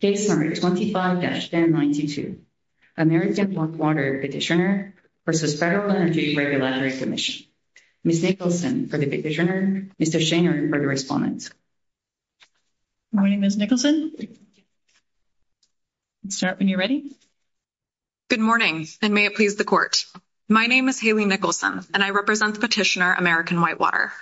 25-1092, American Whitewater Petitioner v. Federal Penalty Regulatory Commission. Ms. Nicholson for the Petitioner, Ms. Schanger for the Respondent. Good morning, Ms. Nicholson. Start when you're ready. Good morning and may it please the Court. My name is Haley Nicholson and I represent Petitioner American Whitewater.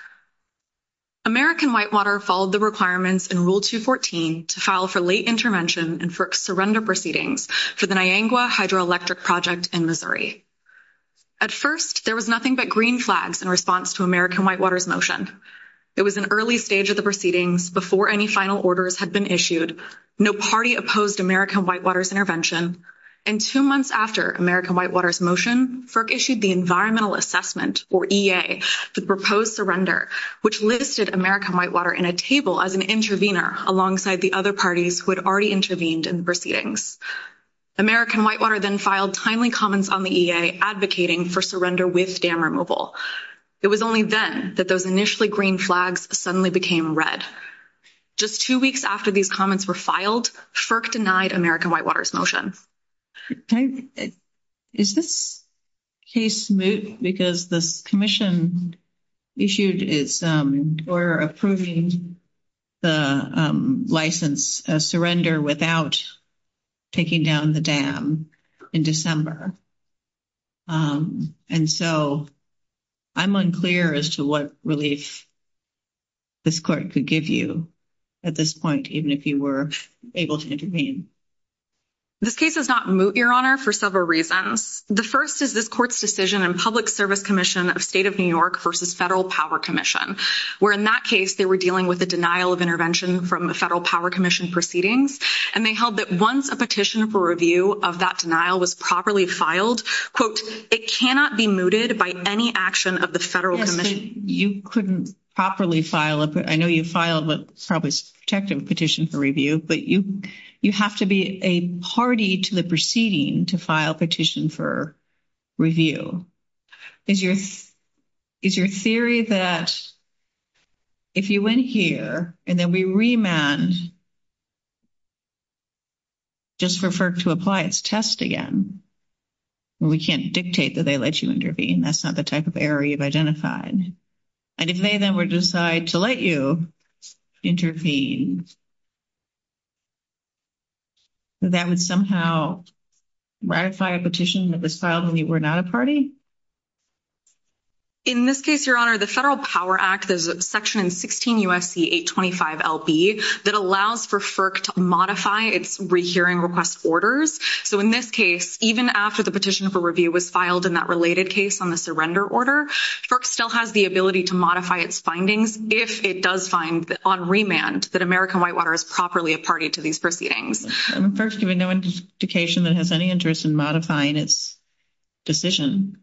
American Whitewater followed the requirements in Rule 214 to file for late intervention and FERC surrender proceedings for the Niagua Hydroelectric Project in Missouri. At first, there was nothing but green flags in response to American Whitewater's motion. It was an early stage of the proceedings before any final orders had been issued, no party opposed American Whitewater's intervention, and two months after American Whitewater's motion, FERC issued the Environmental Assessment, or EA, to propose surrender, which listed American Whitewater in a table as an intervener alongside the other parties who had already intervened in the proceedings. American Whitewater then filed timely comments on the EA advocating for surrender with dam removal. It was only then that those initially green flags suddenly became red. Just two weeks after these comments were filed, FERC denied American Whitewater's motion. Is this case moot because the commission issued its order approving the license of surrender without taking down the dam in December? And so, I'm unclear as to what relief this court could give you at this point, even if you were able to intervene. This case is not moot, Your Honor, for several reasons. The first is this court's decision in Public Service Commission of State of New York versus Federal Power Commission, where, in that case, they were dealing with the denial of intervention from the Federal Power Commission proceedings. And they held that once a petition for review of that denial was properly filed, quote, it cannot be mooted by any action of the Federal Commission. You couldn't properly file it. I know you filed a probably protective petition for review, but you have to be a party to the proceeding to file a petition for review. Is your theory that if you went here and then we remand, just for FERC to apply its test again, we can't dictate that they let you intervene? That's not the type of error you've identified. And if they then would decide to let you intervene, that would somehow ratify a petition that was filed when you were not a party? In this case, Your Honor, the Federal Power Act is Section 16 U.S.C. 825 L.B. that allows for FERC to modify its rehearing request orders. So, in this case, even after the petition for review was filed in that related case on the surrender order, FERC still has the ability to modify its findings if it does find on remand that American Whitewater is properly a party to these proceedings. FERC has no indication that it has any interest in modifying its decision.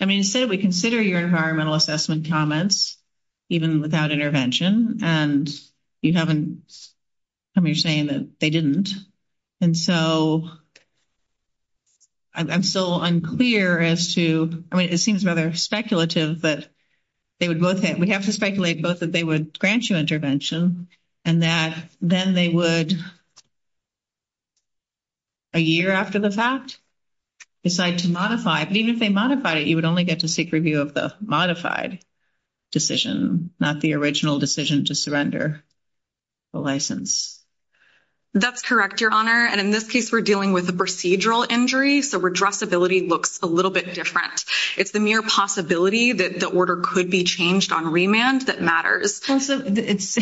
I mean, instead, we consider your environmental assessment comments, even without intervention, and you haven't come here saying that they didn't. And so, I'm still unclear as to, I mean, it seems rather speculative, but they would both have, we have to speculate both that they would grant you intervention and that then they would, a year after the fact, decide to modify. But even if they modify it, you would only get to seek review of the modified decision, not the original decision to surrender the license. That's correct, Your Honor. And in this case, we're dealing with a procedural injury. So, redressability looks a little bit different. It's the mere possibility that the order could be changed on remand that matters. It's,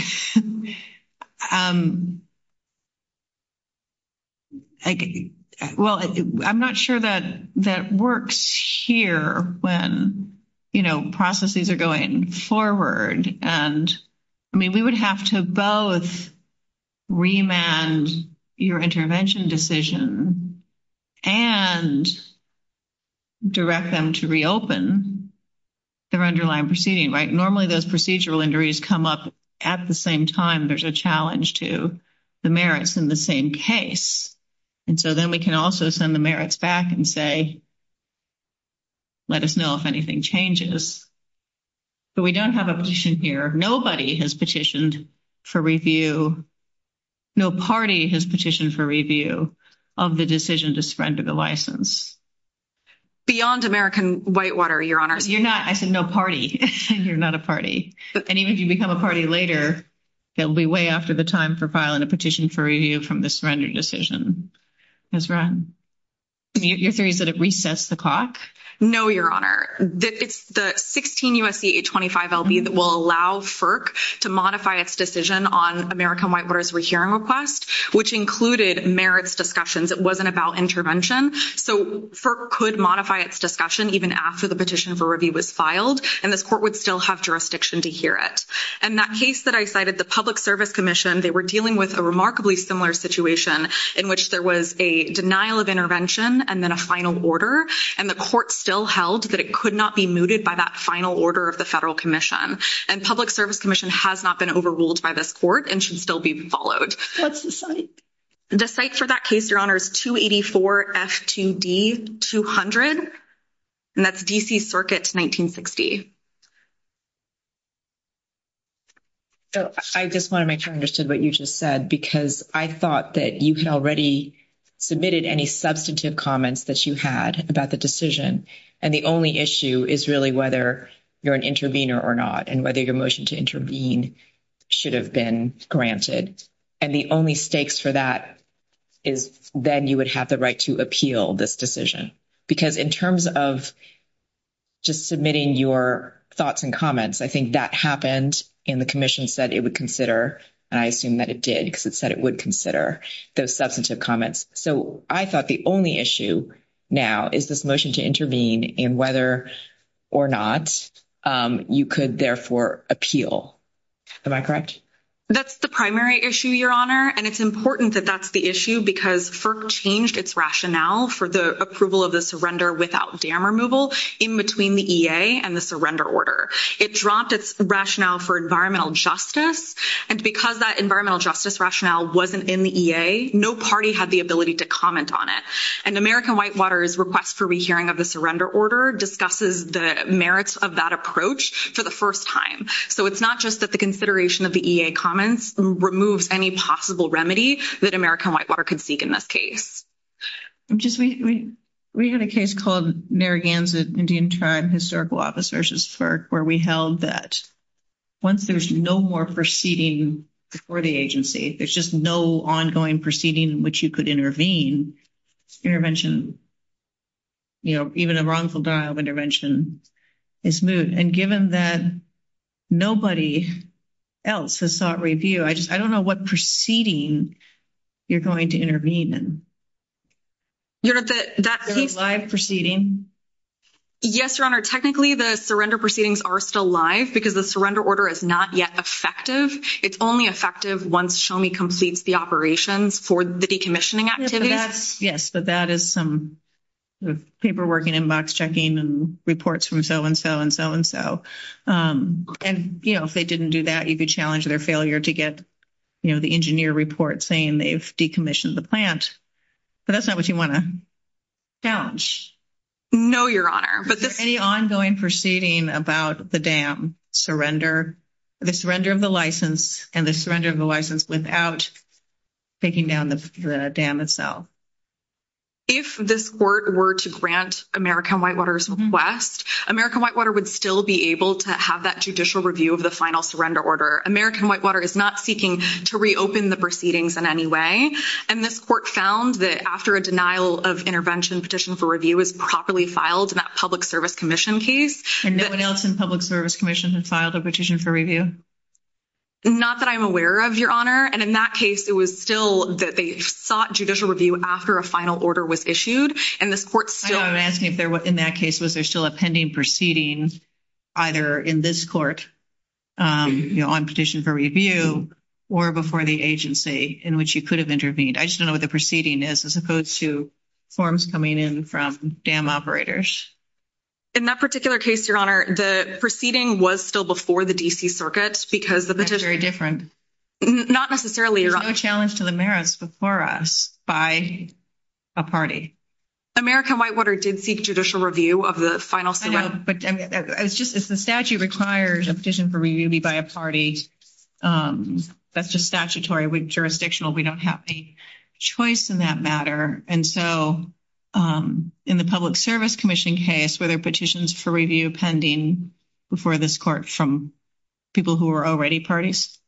well, I'm not sure that that works here when, you know, processes are going forward. And, I mean, we would have to both remand your intervention decision and direct them to reopen their underlying proceeding, right? Normally, those procedural injuries come up at the same time. There's a challenge to the merits in the same case. And so then we can also send the merits back and say, let us know if anything changes. But we don't have a petition here. Nobody has petitioned for review. No party has petitioned for review of the decision to surrender the license. Beyond American Whitewater, Your Honor. You're not, I said no party. You're not a party. And even if you become a party later, that would be way after the time for filing a petition for review from the surrender decision. Your theory is that it recessed the clock? No, Your Honor. It's the 16 U.S.C.A. 25 LB that will allow FERC to modify its decision on American Whitewater's hearing request, which included merits discussions. It wasn't about intervention. So, FERC could modify its discussion even after the petition for review was filed, and the court would still have jurisdiction to hear it. And that case that I cited, the Public Service Commission, they were dealing with a remarkably similar situation in which there was a denial of intervention and then a final order, and the court still held, but it could not be mooted by that final order of the Federal Commission. And Public Service Commission has not been overruled by this court and should still be followed. The site for that case, Your Honor, is 284 F2D 200, and that's D.C. Circuit 1960. I just want to make sure I understood what you just said, because I thought that you had already submitted any substantive comments that you had about the decision, and the only issue is really whether you're an intervener or not, and whether your motion to intervene should have been granted. And the only stakes for that is then you would have the right to appeal this decision. Because in terms of just submitting your thoughts and comments, I think that happened, and the Commission said it would consider, and I assume that it did, because it said it would consider those substantive comments. So, I thought the only issue now is this motion to intervene, and whether or not you could therefore appeal. Am I correct? That's the primary issue, Your Honor, and it's important that that's the issue, because FERC changed its rationale for the approval of the surrender without dam removal in between the EA and the surrender order. It dropped its rationale for environmental justice, and because that environmental justice rationale wasn't in the EA, no party had the ability to comment on it. And the American Whitewater's request for rehearing of the surrender order discusses the merits of that approach for the first time. So, it's not just that the consideration of the EA comments removed any possible remedy that American Whitewater could seek in this case. We had a case called Narragansett Indian Tribe Historical Officers' FERC, where we held that once there's no more proceeding before the agency, there's just no ongoing proceeding in which you could intervene, intervention, you know, even a wrongful death of intervention is moved. And given that nobody else has sought review, I just I don't know what proceeding you're going to intervene in. You're at that live proceeding. Yes, Your Honor, technically, the surrender proceedings are still live because the surrender order is not yet effective. It's only effective once SHOMI completes the operations for the decommissioning. Yes, but that is some paperwork and inbox checking and reports from so and so and so and so. And, you know, if they didn't do that, you could challenge their failure to get, you know, the engineer report saying they've decommissioned the plant. But that's not what you want to know, Your Honor, but the ongoing proceeding about the dam surrender, the surrender of the license and the surrender of the license without. Taking down the dam itself, if this court were to grant American Whitewater's request, American Whitewater would still be able to have that judicial review of the final surrender order. American Whitewater is not seeking to reopen the proceedings in any way. And this court found that after a denial of intervention, petition for review is properly filed in that public service commission case and no one else in public service commission has filed a petition for review. Not that I'm aware of, Your Honor. And in that case, it was still that they sought judicial review after a final order was issued. And this court still. I'm asking if there was in that case, was there still a pending proceeding either in this court on petition for review or before the agency in which you could have intervened? I just don't know what the proceeding is as opposed to forms coming in from dam operators. In that particular case, Your Honor, the proceeding was still before the D. C. circuit because of the history. Not necessarily a challenge to the merits before us by a party. American Whitewater did seek judicial review of the final, but it's just, it's the statute requires a petition for review by a party. That's just statutory with jurisdictional. We don't have a choice in that matter. And so in the public service commission case, whether petitions for review pending before this court from. People who are already parties,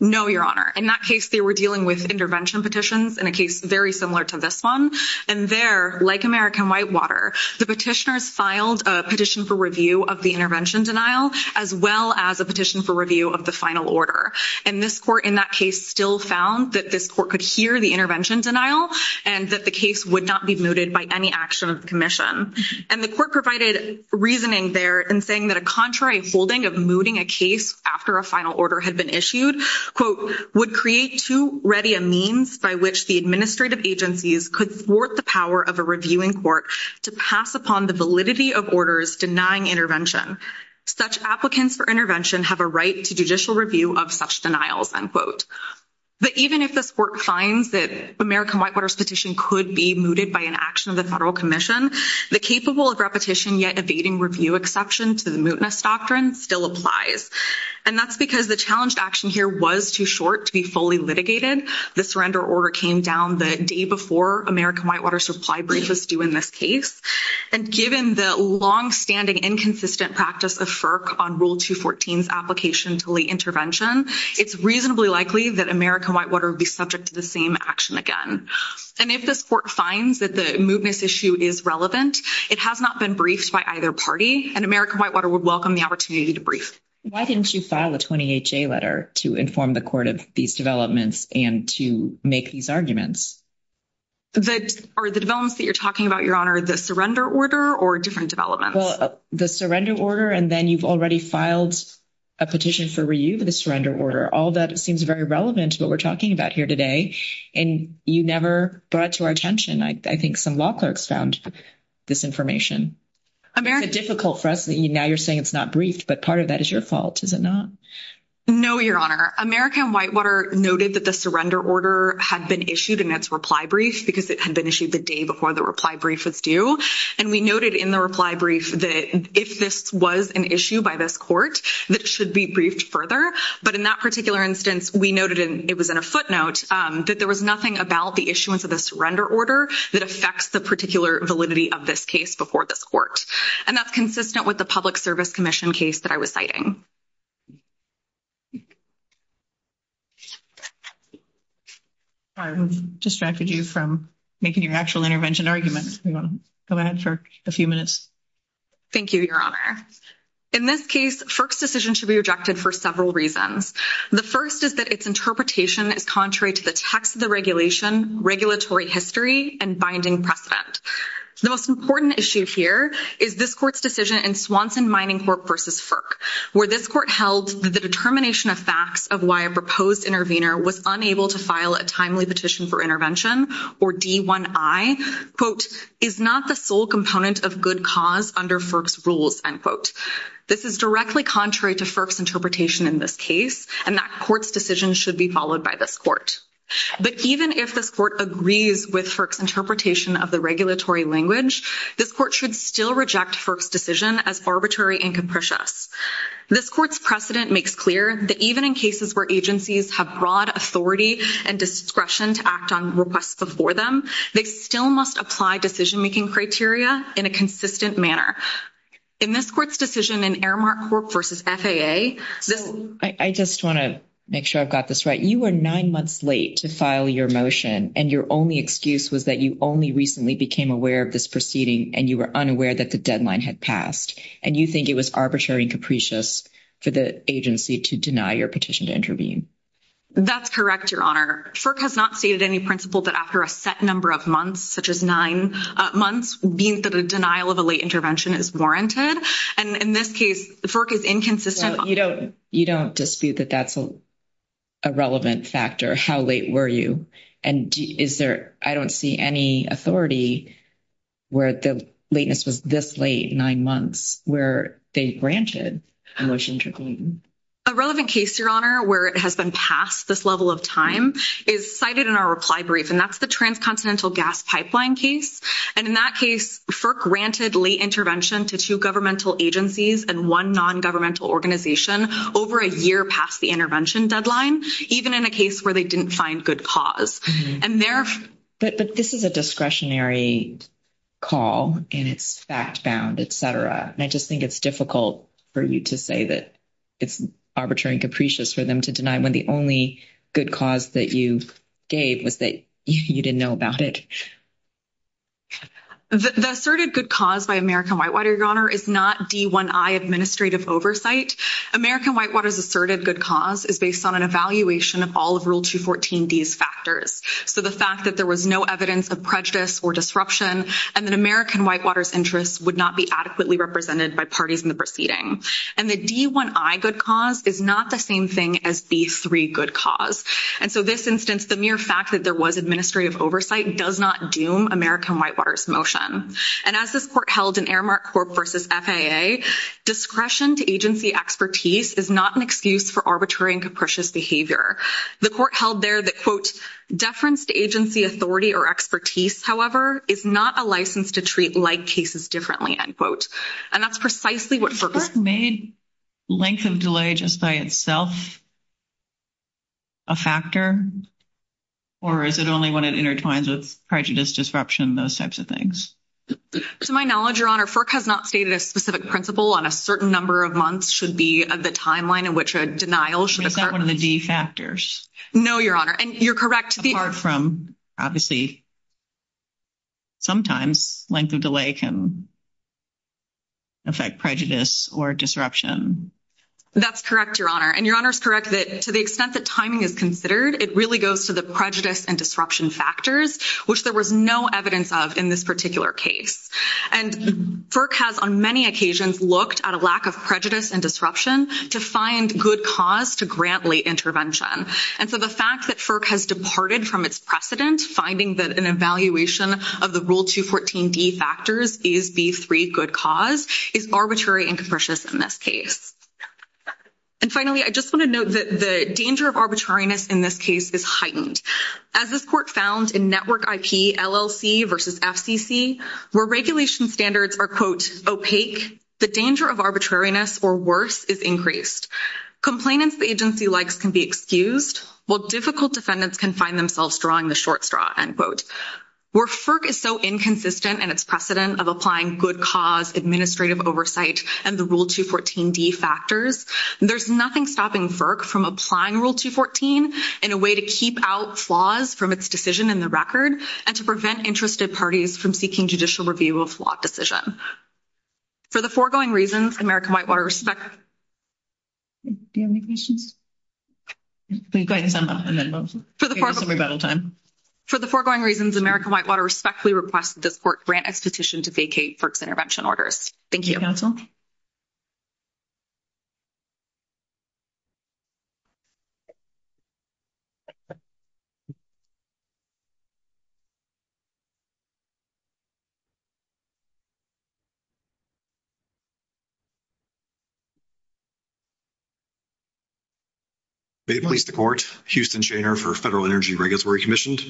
no, Your Honor, and that case, they were dealing with intervention petitions in a case very similar to this 1 and they're like, American Whitewater petitioners filed a petition for review of the intervention denial as well as a petition for review of the final. Order and this court in that case still found that this court could hear the intervention denial and that the case would not be noted by any action commission and the court provided reasoning there and saying that a contrary holding of mooting a case after a final order had been issued would create to ready a means by which the administrative agencies could support the power of a reviewing court to pass upon the validity of orders denying intervention. Such applicants for intervention have a right to judicial review of such denials unquote. But even if the court signs that American Whitewater petition could be mooted by an action of the federal commission, the capable of repetition, yet evading review exception to the mootness doctrine still applies. And that's because the challenge action here was too short to be fully litigated. The surrender order came down the day before American Whitewater supply brief was due in this case. And given the long standing, inconsistent practice of FERC on rule two, fourteens application to late intervention, it's reasonably likely that American Whitewater would be subject to the same action again. And if the court finds that the mootness issue is relevant, it has not been briefed by either party and American Whitewater would welcome the opportunity to brief. Why didn't you file a 20 letter to inform the court of these developments and to make these arguments? That are the developments that you're talking about, your honor, the surrender order or different development, the surrender order, and then you've already filed a petition for review of the surrender order. All that seems very relevant to what we're talking about here today. And you never brought to our attention. I think some law clerks found this information. I mean, it's difficult for us now you're saying it's not briefed, but part of that is your fault. Is it not? No, your honor, American Whitewater noted that the surrender order had been issued in its reply brief because it had been issued the day before the reply brief was due. And we noted in the reply brief that if this was an issue by this court, that should be briefed further. But in that particular instance, we noted it was in a footnote that there was nothing about the issuance of the surrender order that affects the particular validity of this case before the court. And that's consistent with the public service commission case that I was citing. I'm distracted you from making your actual intervention argument for a few minutes. Thank you, your honor in this case, first decision should be rejected for several reasons. The 1st is that it's interpretation is contrary to the text of the regulation, regulatory history and binding precedent. The most important issue here is this court's decision in Swanson Mining Corp versus FERC, where this court held the determination of facts of why a proposed intervener was unable to file a timely petition for intervention or D1 I quote, is not the full component of good cause under FERC's rules end quote. This is directly contrary to FERC's interpretation in this case, and that court's decision should be followed by this court. But even if this court agrees with FERC's interpretation of the regulatory language, this court should still reject FERC's decision as arbitrary and capricious. This court's precedent makes clear that even in cases where agencies have broad authority and discretion to act on requests before them, they still must apply decision making criteria in a consistent manner. In this court's decision in Aramark Corp versus FAA, I just want to make sure I've got this right. You were 9 months late to file your motion. And your only excuse was that you only recently became aware of this proceeding and you were unaware that the deadline had passed and you think it was arbitrary and capricious for the agency to deny your petition to intervene. That's correct, your honor. FERC has not stated any principle that after a set number of months, such as 9 months, being for the denial of a late intervention is warranted. And in this case, FERC is inconsistent. You don't dispute that that's a relevant factor. How late were you? And is there, I don't see any authority where the lateness was this late, 9 months, where they branched the motion to intervene. A relevant case, your honor, where it has been passed this level of time is cited in our reply brief, and that's the transcontinental gas pipeline case. And in that case, FERC granted late intervention to 2 governmental agencies and 1 non-governmental organization over a year past the intervention deadline, even in a case where they didn't find good cause. And there. But this is a discretionary call, and it's fact found, et cetera. And I just think it's difficult for you to say that it's arbitrary and capricious for them to deny when the only good cause that you gave was that you didn't know about it. The asserted good cause by American Whitewater, your honor, is not D1I administrative oversight. American Whitewater's asserted good cause is based on an evaluation of all of Rule 214D's factors. So, the fact that there was no evidence of prejudice or disruption, and that American Whitewater's interests would not be adequately represented by parties in the proceeding. And the D1I good cause is not the same thing as the 3 good cause. And so, this instance, the mere fact that there was administrative oversight does not doom American Whitewater's motion. And as this court held in Aramark Corp versus FAA, discretion to agency expertise is not an excuse for arbitrary and capricious behavior. The court held there that, quote, deference to agency authority or expertise, however, is not a license to treat like cases differently, end quote. And that's precisely what FERC made. Length of delay just by itself a factor, or is it only when it intertwines with prejudice, disruption, those types of things? To my knowledge, your honor, FERC has not stated a specific principle on a certain number of months should be of the timeline in which a denial should occur. Is that one of the D factors? No, your honor. And you're correct. Apart from, obviously, sometimes length of delay can affect prejudice or disruption. That's correct, your honor. And your honor is correct that to the extent that timing is considered, it really goes to the prejudice and disruption factors, which there was no evidence of in this particular case. And FERC has on many occasions looked at a lack of prejudice and disruption to find good cause to grant late intervention. And so the fact that FERC has departed from its precedent, finding that an evaluation of the Rule 214 D factors is the free good cause, is arbitrary and capricious in this case. And finally, I just want to note that the danger of arbitrariness in this case is heightened. As this court found in Network IP LLC versus FCC, where regulation standards are, quote, opaque, the danger of arbitrariness or worse is increased. Complainants the agency likes can be excused, while difficult defendants can find themselves drawing the short straw, end quote. Where FERC is so inconsistent in its precedent of applying good cause, administrative oversight, and the Rule 214 D factors, there's nothing stopping FERC from applying Rule 214 in a way to keep out flaws from its decision in the record and to prevent interested parties from seeking judicial review of flawed decisions. For the foregoing reasons, American Whitewater respectfully requests that this court grant a petition to vacate FERC's intervention orders. Thank you. May it please the court, Houston Schainer for Federal Energy Regulatory Commissions.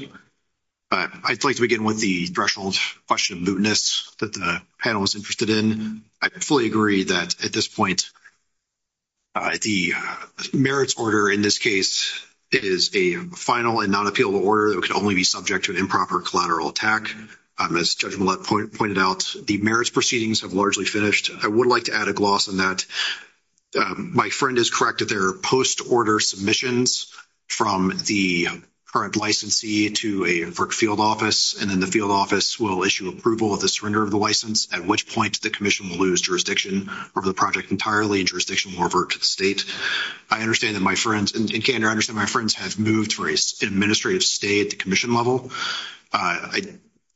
I'd like to begin with the threshold question of mootness that the panel was interested in. I fully agree that at this point, the merits order in this case is a final and non-appealable order that should only be subject to improper collateral attack. As Judge Millett pointed out, the merits proceedings have largely finished. I would like to add a gloss on that. My friend has corrected their post-order submissions from the current licensee to a work field office, and then the field office will issue approval of the surrender of the license, at which point the Commission will lose jurisdiction over the project entirely and jurisdiction will revert to the state. I understand that my friends in Canada, I understand my friends have moved for an administrative stay at the Commission level. I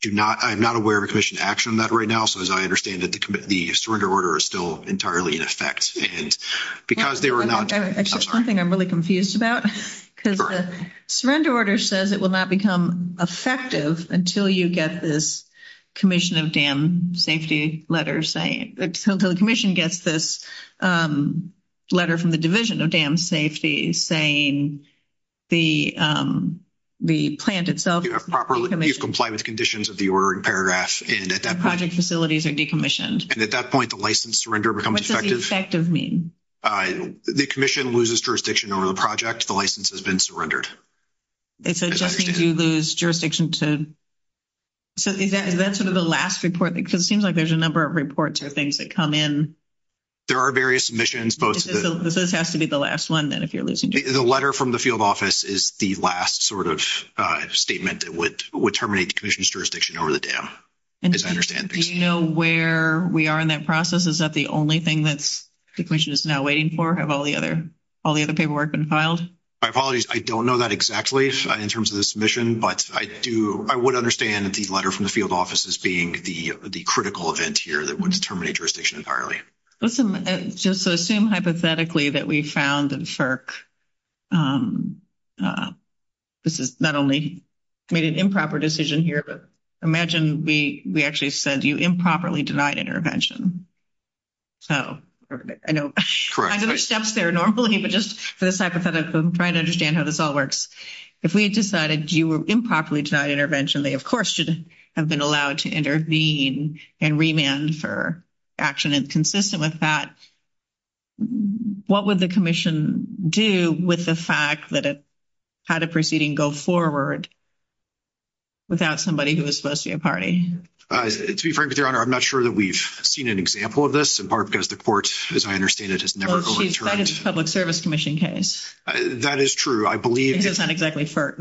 do not, I'm not aware of a Commission action on that right now, so as I understand it, the surrender order is still entirely in effect, and because they were not... Actually, something I'm really confused about, because the surrender order says it will not become effective until you get this Commission of Dam Safety letter saying, until the Commission gets this letter from the Division of Dam Safety saying the plant itself... You have proper compliance conditions of the ordering paragraph, and at that point... Project facilities are decommissioned. And at that point, the license surrender becomes effective. What does effective mean? The Commission loses jurisdiction over the project, the license has been surrendered. And so it just means you lose jurisdiction to... So is that sort of the last report? Because it seems like there's a number of reports or things that come in. There are various submissions, both... Does this have to be the last one, then, if you're losing jurisdiction? The letter from the field office is the last sort of statement that would terminate the Commission's jurisdiction over the dam, as I understand things. Do you know where we are in that process? Is that the only thing that the Commission is now waiting for? Have all the other paperwork been filed? My apologies, I don't know that exactly in terms of the submission, but I would understand the letter from the field office as being the critical event here that would terminate jurisdiction entirely. Listen, just to assume hypothetically that we found in FERC, this is not only made an improper decision here, but imagine we actually said you improperly denied intervention. So I know there are steps there normally, but just for this hypothetical, trying to understand how this all works. If we had decided you were improperly denied intervention, they, of course, should have been allowed to intervene and remand for action inconsistent with that. What would the Commission do with the fact that it had a proceeding go forward without somebody who was supposed to be a party? To be frank, Your Honor, I'm not sure that we've seen an example of this, in part because the court, as I understand it, has never... Well, see, that is a Public Service Commission case. That is true. I believe... It's not exactly FERC.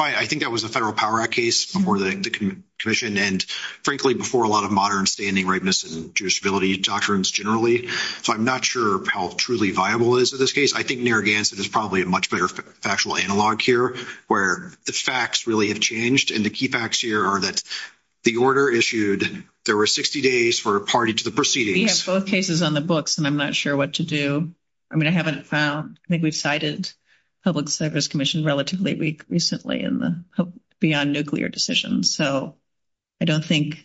I think that was a Federal Power Act case before the Commission and, frankly, before a lot of modern standing, rightness, and jurisdictions generally. So I'm not sure how truly viable it is in this case. I think Narragansett is probably a much better factual analog here where the facts really have changed, and the key facts here are that the order issued, there were 60 days for a party to the proceedings. We have both cases on the books, and I'm not sure what to do. I mean, I haven't found... I think we've cited Public Service Commission relatively recently in the beyond nuclear decisions. So I don't think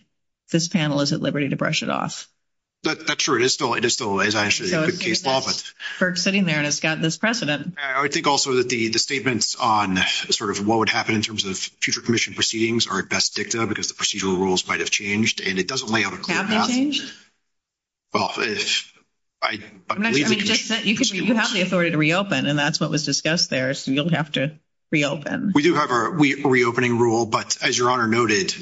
this panel is at liberty to brush it off. That's true. It is still a good case law, but... FERC's sitting there, and it's got this precedent. I think also that the statements on sort of what would happen in terms of future Commission proceedings are at best dicta because the procedural rules might have changed, and it doesn't lay out a clear path. Have they changed? Well, I believe... You have the authority to reopen, and that's what was discussed there. So you'll have to reopen. We do have a reopening rule, but as Your Honor noted,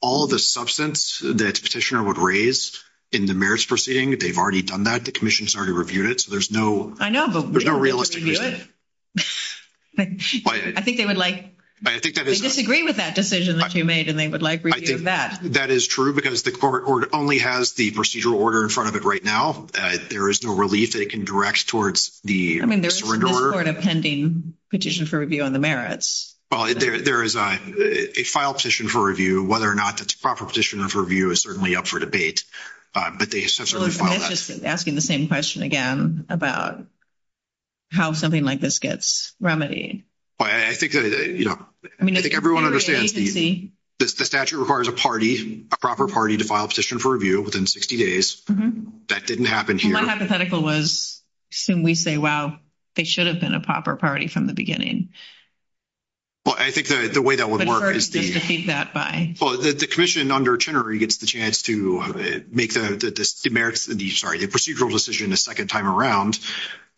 all of the substance that Petitioner would raise in the merits proceeding, they've already done that. The Commission started reviewing it, so there's no... I know, but we don't want to review it. I think they would like... I think that is... They disagree with that decision that you made, and they would like review of that. That is true because the court only has the procedural order in front of it right now. There is no relief they can direct towards the procedural order. I mean, there's no sort of pending Petition for Review on the merits. Well, there is a filed Petition for Review. Whether or not that's a proper Petition for Review is certainly up for debate, but they have certainly filed that. That's just asking the same question again about how something like this gets remedied. Well, I think everyone understands the statute requires a party, a proper party to file a Petition for Review within 60 days. That didn't happen here. My hypothetical was, assume we say, wow, they should have been a proper party from the beginning. Well, I think the way that would work is the... But first, they precede that by... Well, the Commission under Chenery gets the chance to make the merits, sorry, the procedural decision the second time around.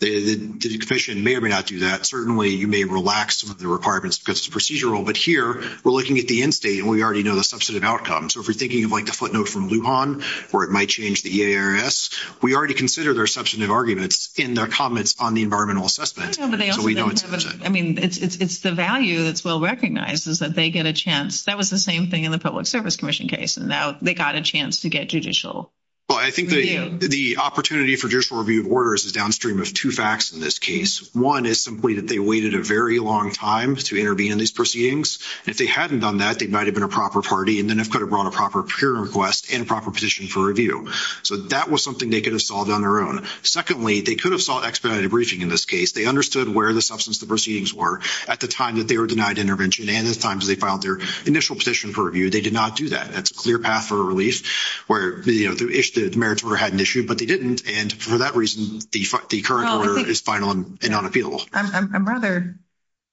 The Commission may or may not do that. Certainly, you may relax the requirements because it's procedural, but here, we're looking at the end state, and we already know the substantive outcome. So, if you're thinking of like the footnote from Lujan, where it might change the EARS, we already consider their substantive arguments in their comments on the environmental assessment. But they also don't have a... I mean, it's the value that's well recognized is that they get a chance. That was the same thing in the Public Service Commission case, and now they got a chance to get judicial... Well, I think the opportunity for judicial review of orders is downstream of two facts in this case. One is simply that they waited a very long time to intervene in these proceedings. If they hadn't done that, they might have been a proper party, and then they could have brought a proper peer request and proper position for review. So, that was something they could have solved on their own. Secondly, they could have sought expedited briefing in this case. They understood where the substantive proceedings were at the time that they were denied intervention, and at times, they filed their initial petition for review. They did not do that. That's a clear path for a relief where the merits were had an issue, but they didn't. And for that reason, the current order is final and unappealable. I'm rather...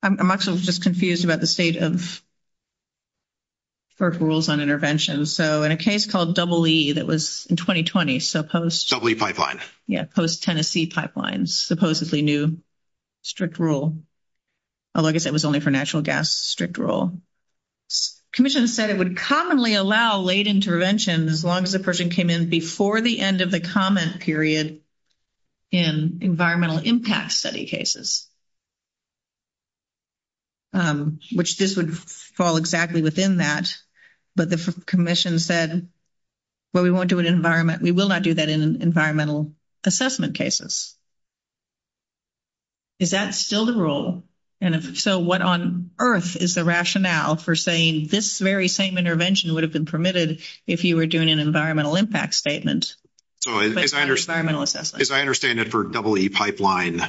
I'm also just confused about the state of FERC rules on intervention. So, in a case called EE that was in 2020, so post... EE Pipeline. Yeah, post-Tennessee Pipeline, supposedly new strict rule. Like I said, it was only for natural gas, strict rule. Commissioners said it would commonly allow late intervention as long as the person came in before the end of the comment period in environmental impact study cases. Um, which this would fall exactly within that, but the commission said, well, we won't do an environment... We will not do that in environmental assessment cases. Is that still the rule? And if so, what on earth is the rationale for saying this very same intervention would have been permitted if you were doing an environmental impact statement? So, as I understand it for EE Pipeline,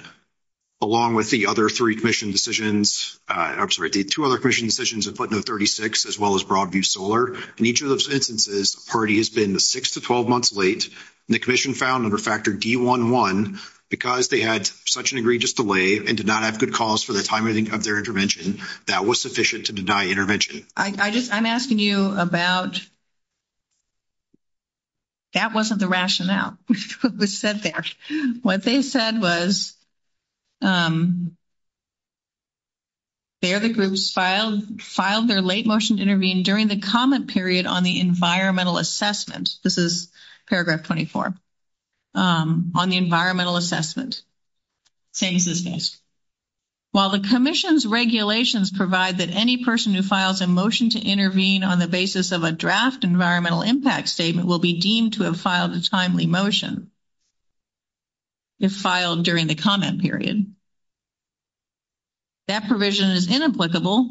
along with the other three commission decisions, I'm sorry, the two other commission decisions in Pluton 36, as well as Broadview Solar, in each of those instances, the party has been 6 to 12 months late and the commission found under factor D11, because they had such an egregious delay and did not have good cause for the timing of their intervention, that was sufficient to deny intervention. I just... I'm asking you about... That wasn't the rationale, which said there. What they said was, they or the groups filed their late motion to intervene during the comment period on the environmental assessment. This is paragraph 24. On the environmental assessment. While the commission's regulations provide that any person who files a motion to intervene on the basis of a draft environmental impact statement will be deemed to have filed a timely motion, is filed during the comment period. That provision is inapplicable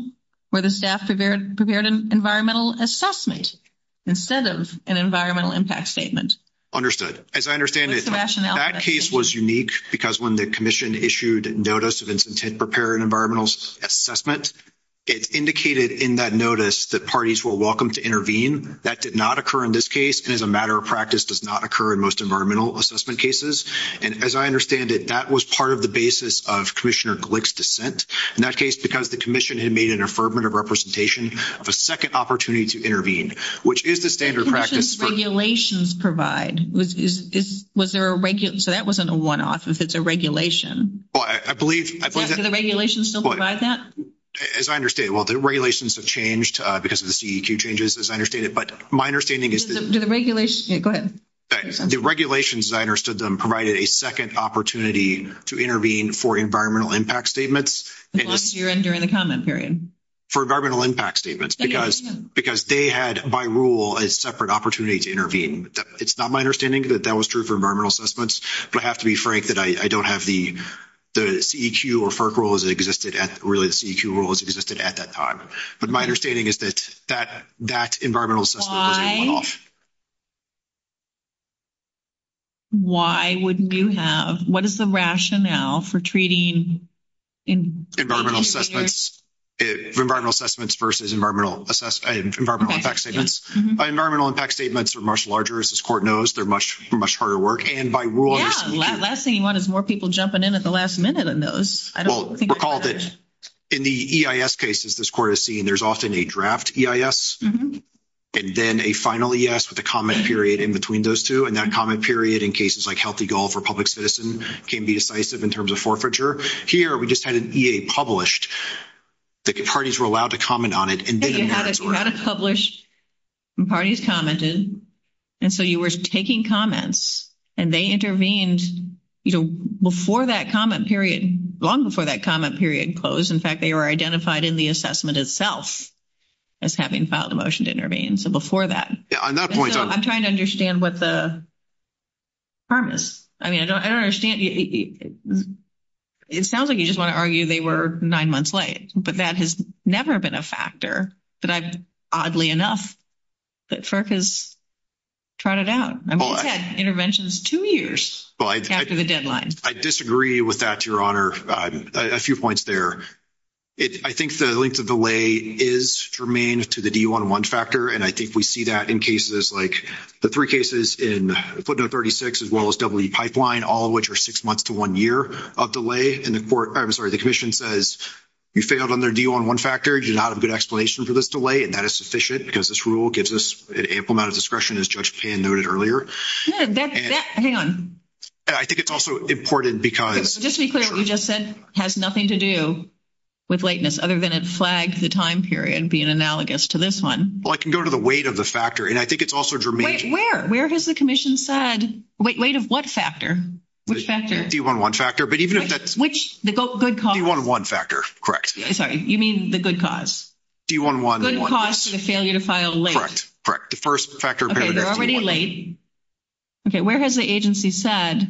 where the staff prepared an environmental assessment instead of an environmental impact statement. Understood. As I understand it, that case was unique because when the commission issued notice of intent to prepare an environmental assessment, it indicated in that notice that parties were welcome to intervene. That did not occur in this case, and as a matter of practice does not occur in most environmental assessment cases. As I understand it, that was part of the basis of Commissioner Glick's dissent. In that case, because the commission had made an affirmative representation of a second opportunity to intervene, which is the standard practice... Commission's regulations provide. Was there a... So that wasn't a one-off. If it's a regulation. Well, I believe... Do the regulations still provide that? As I understand it, well, the regulations have changed because of the CEG changes, as I understand it. But my understanding is... Do the regulations... Yeah, go ahead. The regulations, as I understood them, provided a second opportunity to intervene for environmental impact statements. As long as you're entering the comment period. For environmental impact statements. Because they had, by rule, a separate opportunity to intervene. It's not my understanding that that was true for environmental assessments, but I have to be frank that I don't have the CEQ or FERC rules that existed at... Really, the CEQ rules existed at that time. But my understanding is that that environmental assessment was a one-off. Why wouldn't you have... What is the rationale for treating... Environmental assessments. Environmental assessments versus environmental impact statements. Environmental impact statements are much larger, as this court knows. They're much harder work. And by rule... Yeah, the last thing you want is more people jumping in at the last minute on those. Well, recall that in the EIS cases this court has seen, there's often a draft EIS. And then a final EIS with a comment period in between those two. And that comment period, in cases like Healthy Gulf or Public Citizen, can be decisive in terms of forfeiture. Here, we just had an EA published. The parties were allowed to comment on it. You had a credit published and parties commented. And so you were taking comments and they intervened before that comment period, long before that comment period closed. In fact, they were identified in the assessment itself as having filed a motion to intervene. So before that... Yeah, on that point... I'm trying to understand what the purpose... I mean, I don't understand. It sounds like you just want to argue they were nine months late. But that has never been a factor. But oddly enough, FERC has tried it out. I mean, they had interventions two years after the deadline. I disagree with that, Your Honor. A few points there. I think the length of delay is germane to the D-1-1 factor. And I think we see that in cases like the three cases in footnote 36, as well as W-E pipeline, all of which are six months to one year of delay. And the commission says, you failed on their D-1-1 factor. You do not have a good explanation for this delay. And that is sufficient because this rule gives us an ample amount of discretion, as Judge Pan noted earlier. Hang on. I think it's also important because... Let's be clear. You just said it has nothing to do with lateness, other than it flags the time period being analogous to this one. Well, I can go to the weight of the factor. And I think it's also germane to... Wait, where? Where has the commission said weight of what factor? Which factor? D-1-1 factor. But even if it's... Which? The good cause. D-1-1 factor. Correct. Sorry. You mean the good cause? D-1-1. Good cause for the failure to file late. Correct. Correct. The first factor... Okay. They're already late. Okay. Where has the agency said?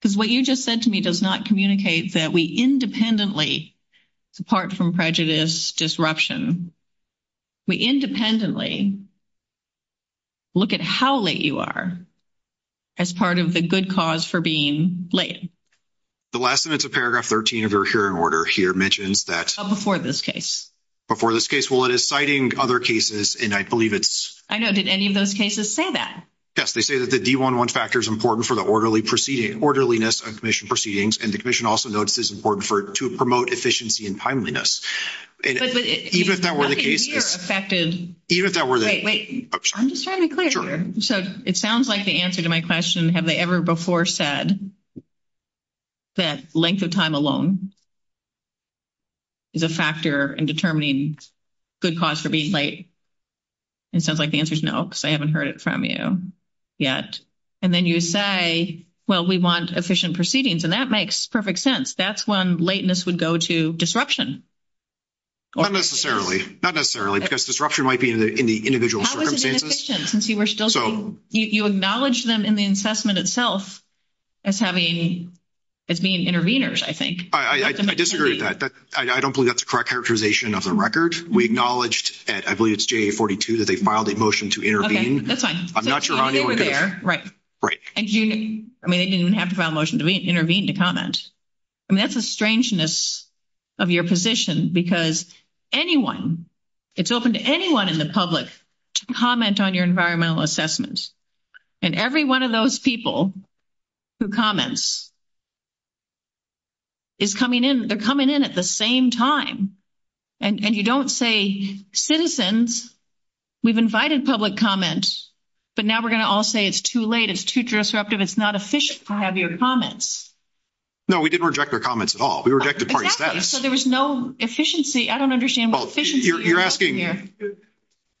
Because what you just said to me does not communicate that we independently, apart from prejudice disruption, we independently look at how late you are as part of the good cause for being late. The last minute of paragraph 13 of your hearing order here mentions that... Oh, before this case. Before this case. Well, it is citing other cases, and I believe it's... I know. Did any of those cases say that? Yes. They say that the D-1-1 factor is important for the orderliness of commission proceedings, and the commission also noticed it's important to promote efficiency and timeliness. Even if that were the case... But you're affected... Even if that were the case... Wait, wait. I'm just trying to be clear here. So it sounds like the answer to my question, have they ever before said that length of time alone is a factor in determining good cause for being late? It sounds like the answer is no, because I haven't heard it from you. Yet. And then you say, well, we want efficient proceedings, and that makes perfect sense. That's when lateness would go to disruption. Not necessarily. Not necessarily, because disruption might be in the individual circumstances. How is it efficient? And see, we're still... So... You acknowledge them in the assessment itself as being interveners, I think. I disagree with that. I don't believe that's the correct characterization of the record. We acknowledged at, I believe it's JA-42, that they filed a motion to intervene. Okay, this one. I'm not sure how many were there. I mean, they didn't have to file a motion to intervene to comment. I mean, that's the strangeness of your position, because anyone, it's open to anyone in the public to comment on your environmental assessments. And every one of those people who comments is coming in, they're coming in at the same time. And you don't say, citizens, we've invited public comments, but now we're going to all say it's too late, it's too disruptive, it's not efficient to have your comments. No, we didn't reject their comments at all. We rejected part of that. So there was no efficiency. I don't understand what efficiency... You're asking...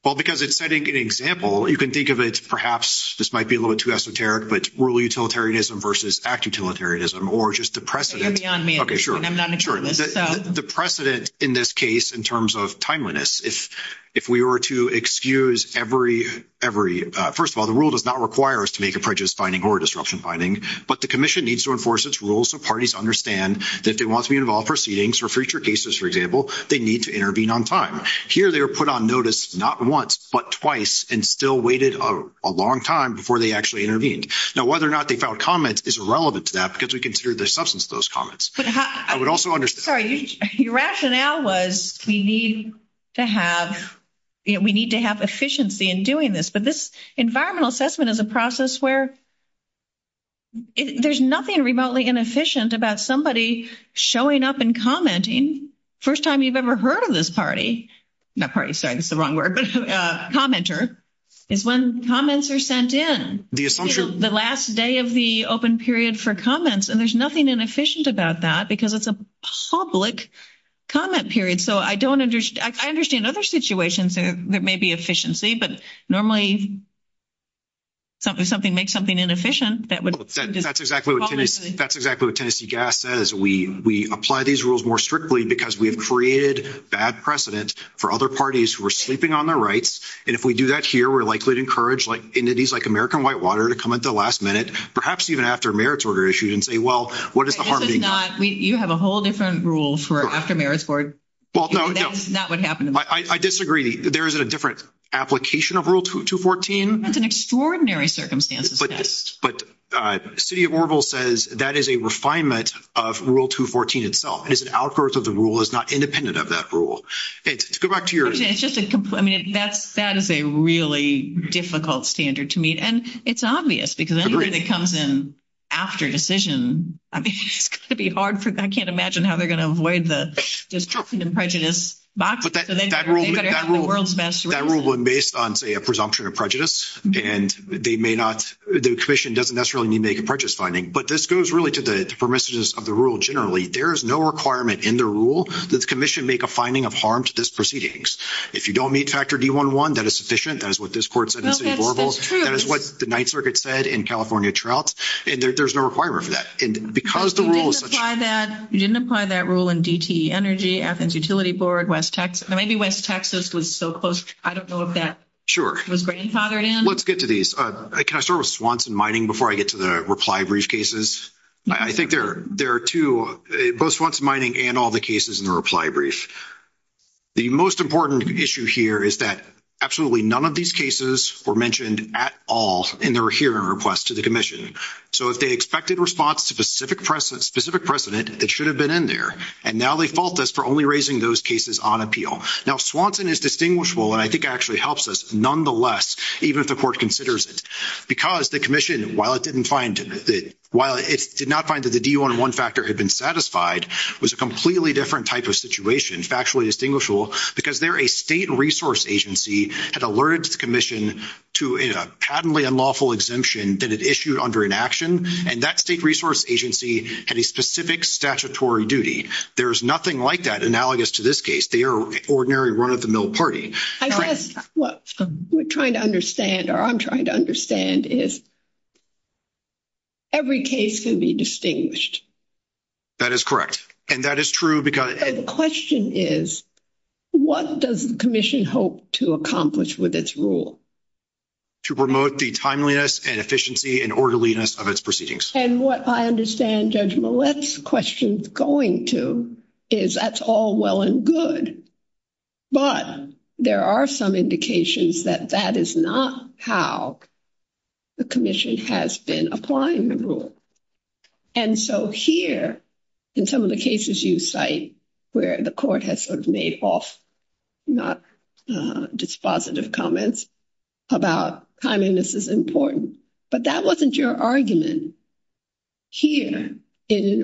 Well, because it's setting an example. You can think of it, perhaps, this might be a little too esoteric, but rural utilitarianism versus act utilitarianism, or just the precedent. You're beyond me. Okay, sure. I'm not an expert. The precedent in this case, in terms of timeliness, if we were to excuse every, first of all, the rule does not require us to make a prejudice finding or disruption finding, but the commission needs to enforce its rules so parties understand that they want to be involved proceedings for future cases, for example, they need to intervene on time. Here, they were put on notice, not once, but twice, and still waited a long time before they actually intervened. Now, whether or not they found comment is irrelevant to that, because we consider the substance of those comments. I would also understand... Sorry, your rationale was we need to have efficiency in doing this, but this environmental assessment is a process where there's nothing remotely inefficient about somebody showing up and commenting. First time you've ever heard of this party, not party, sorry, it's the wrong word, commenter, is when comments are sent in. The last day of the open period for comments, and there's nothing inefficient about that because it's a public comment period. So, I understand other situations that may be efficiency, but normally something makes something inefficient that would... That's exactly what Tennessee GAS says. We apply these rules more strictly because we've created bad precedent for other parties who are sleeping on their rights, and if we do that here, we're likely to encourage entities like American Whitewater to come at the last minute, perhaps even after a merits order issue, and say, well, what is the harm being done? You have a whole different rule for after-merits board. Well, no, no. That's not what happened. I disagree. There is a different application of Rule 214. That's an extraordinary circumstance. But City of Orville says that is a refinement of Rule 214 itself. It's an outgrowth of the rule. It's not independent of that rule. Go back to your... It's just a... I mean, that is a really difficult standard to meet, and it's obvious because anything that comes in after decision, I mean, it's going to be hard for... I can't imagine how they're going to avoid the disruption and prejudice box. But that rule was based on, say, a presumption of prejudice, and they may not... The commission doesn't necessarily need to make a prejudice finding, but this goes really to the permissiveness of the rule generally. There is no requirement in the rule that the commission make a finding of harm to this proceedings. If you don't meet Factor D11, that is sufficient. That is what this court said in City of Orville. That is what the Ninth Circuit said in California Trout. And there's no requirement for that. And because the rule is... You didn't apply that rule in DTE Energy, Athens Utility Board, West Texas. Maybe West Texas was so close. I don't know if that... Sure. ...was brain powdering. Let's get to these. Can I start with Swanson Mining before I get to the reply brief cases? I think there are two, both Swanson Mining and all the cases in the reply brief. The most important issue here is that absolutely none of these cases were mentioned at all in their hearing request to the commission. So if they expected response to specific precedent, it should have been in there. And now they fault us for only raising those cases on appeal. Now, Swanson is distinguishable, and I think actually helps us nonetheless, even if the court considers it. Because the commission, while it did not find that the D11 factor had been satisfied, was a completely different type of situation, factually distinguishable, because there a state resource agency had alerted the commission to a patently unlawful exemption that it issued under inaction. And that state resource agency had a specific statutory duty. There's nothing like that analogous to this case. They are an ordinary run-of-the-mill party. I guess what we're trying to understand, or I'm trying to understand, is every case can be distinguished. That is correct. And that is true because... The question is, what does the commission hope to accomplish with its rule? To promote the timeliness and efficiency and orderliness of its proceedings. And what I understand Judge Millett's question is going to, is that's all well and good. But there are some indications that that is not how the commission has been applying the rule. And so here, in some of the cases you cite where the court has sort of made false, not dispositive comments about timeliness is important. But that wasn't your argument here,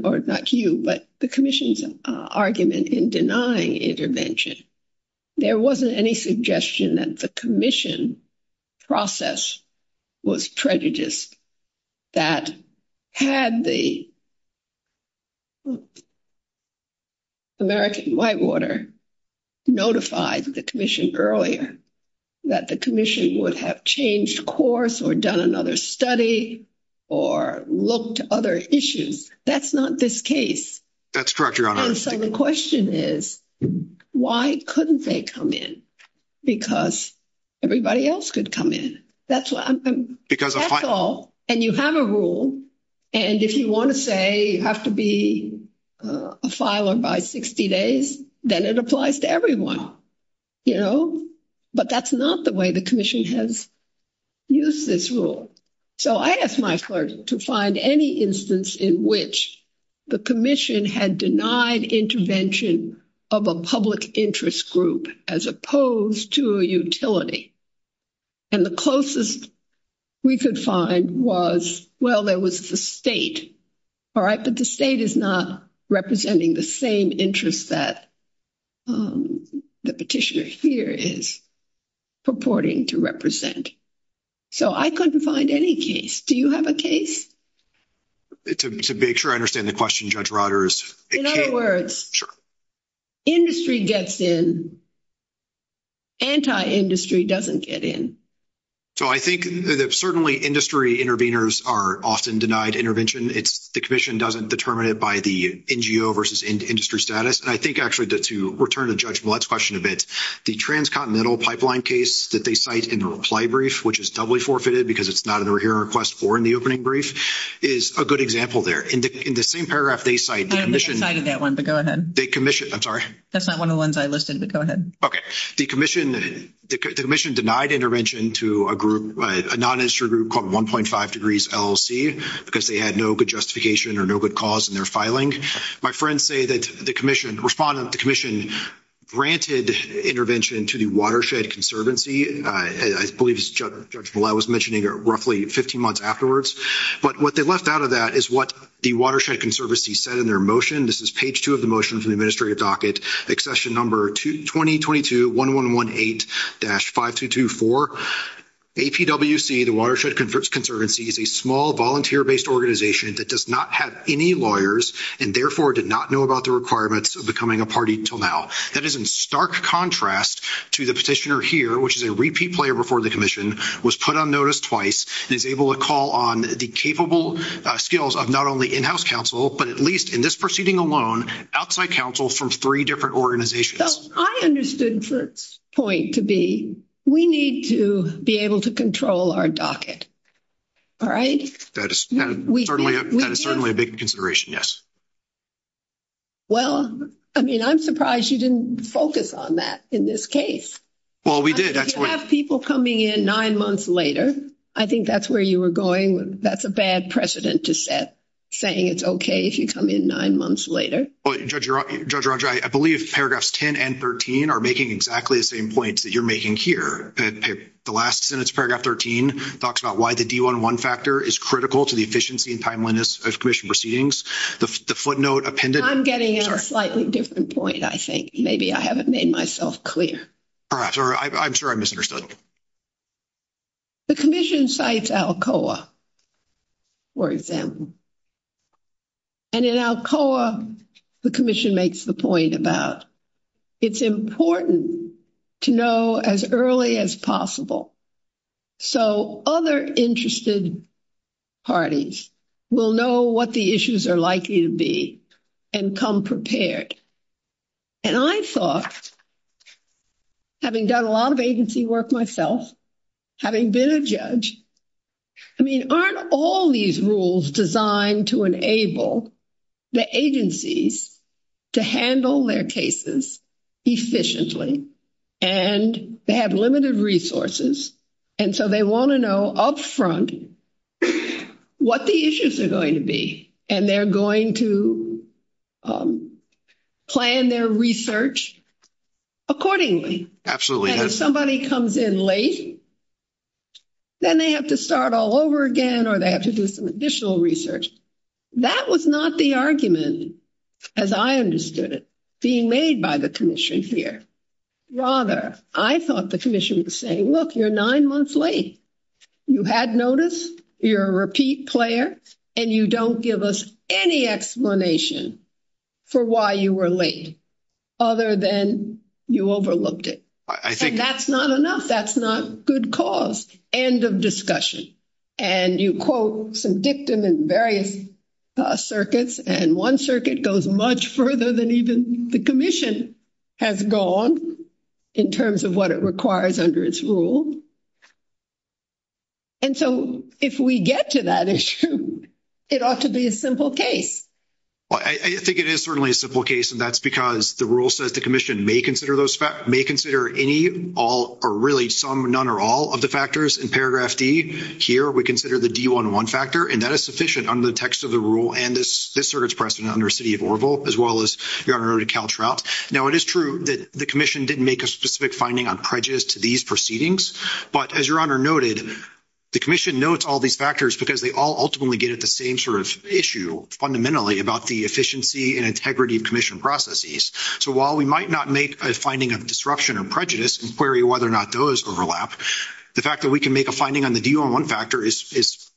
or not to you, but the commission's argument in denying intervention. There wasn't any suggestion that the commission process was treacherous. That had the American Whitewater notified the commission earlier, that the commission would have changed course, or done another study, or looked to other issues. That's not this case. That's correct, Your Honor. And so the question is, why couldn't they come in? Because everybody else could come in. That's why, that's all. And you have a rule, and if you want to say you have to be a filer by 60 days, then it applies to everyone, you know. But that's not the way the commission has used this rule. So I asked my clerk to find any instance in which the commission had denied intervention of a public interest group, as opposed to a utility. And the closest we could find was, well, there was the state. All right, but the state is not representing the same interest that the petitioner's fear is purporting to represent. So I couldn't find any case. Do you have a case? To make sure I understand the question, Judge Rodgers. In other words, industry gets in, anti-industry doesn't get in. So I think that certainly industry interveners are often denied intervention. It's the commission doesn't determine it by the NGO versus industry status. And I think actually, to return to Judge Millett's question a bit, the Transcontinental Pipeline case that they cite in the reply brief, which is doubly forfeited because it's not in the hearing request or in the opening brief, is a good example there. In the same paragraph they cite, the commission. I haven't cited that one, but go ahead. They commission, I'm sorry. That's not one of the ones I listed. Go ahead. The commission denied intervention to a non-industry group called 1.5 Degrees LLC because they had no good justification or no good cause in their filing. My friends say that the commission responded, the commission granted intervention to the Watershed Conservancy. I believe Judge Millett was mentioning roughly 15 months afterwards. But what they left out of that is what the Watershed Conservancy said in their motion. This is page two of the motion from the administrative docket, accession number 2022-1118-5224. ATWC, the Watershed Conservancy, is a small volunteer-based organization that does not have any lawyers and therefore did not know about the requirements of becoming a party until now. That is in stark contrast to the petitioner here, which is a repeat player before the commission, was put on notice twice and is able to call on the capable skills of not only in-house counsel, but at least in this proceeding alone, outside counsel from three different organizations. So I understood the point to be, we need to be able to control our docket, all right? That is certainly a big consideration, yes. Well, I mean, I'm surprised you didn't focus on that in this case. Well, we did. You have people coming in nine months later. I think that's where you were going. That's a bad precedent to set, saying it's okay if you come in nine months later. Well, Judge Roger, I believe paragraphs 10 and 13 are making exactly the same points that you're making here. The last sentence, paragraph 13, talks about why the D1-1 factor is critical to the efficiency and timeliness of commission proceedings. The footnote appended- I'm getting at a slightly different point, I think. Maybe I haven't made myself clear. Perhaps, or I'm sure I misunderstood. The commission cites ALCOA, for example. And in ALCOA, the commission makes the point about it's important to know as early as possible so other interested parties will know what the issues are likely to be and come prepared. And I thought, having done a lot of agency work myself, having been a judge, I mean, aren't all these rules designed to enable the agencies to handle their cases efficiently? And they have limited resources, and so they want to know up front what the issues are going to be. And they're going to plan their research accordingly. And if somebody comes in late, then they have to start all over again, or they have to do some additional research. That was not the argument, as I understood it, being made by the commission here. Rather, I thought the commission was saying, look, you're nine months late. You had notice. You're a repeat player. And you don't give us any explanation for why you were late other than you overlooked it. And that's not enough. That's not good cause. End of discussion. And you quote some dictum in various circuits, and one circuit goes much further than even the commission has gone in terms of what it requires under its rule. And so if we get to that issue, it ought to be a simple case. Well, I think it is certainly a simple case, and that's because the rule says the commission may consider any, all, or really some, none, or all of the factors in paragraph D. Here, we consider the D11 factor, and that is sufficient under the text of the rule and this circuit's precedent under the city of Oroville, as well as your Honor, Cal Trout. Now, it is true that the commission didn't make a specific finding on prejudice to these proceedings, but as your Honor noted, the commission notes all these factors because they all ultimately get at the same sort of issue fundamentally about the efficiency and integrity of commission processes. So while we might not make a finding of disruption and prejudice and query whether or not those overlap, the fact that we can make a finding on the D11 factor is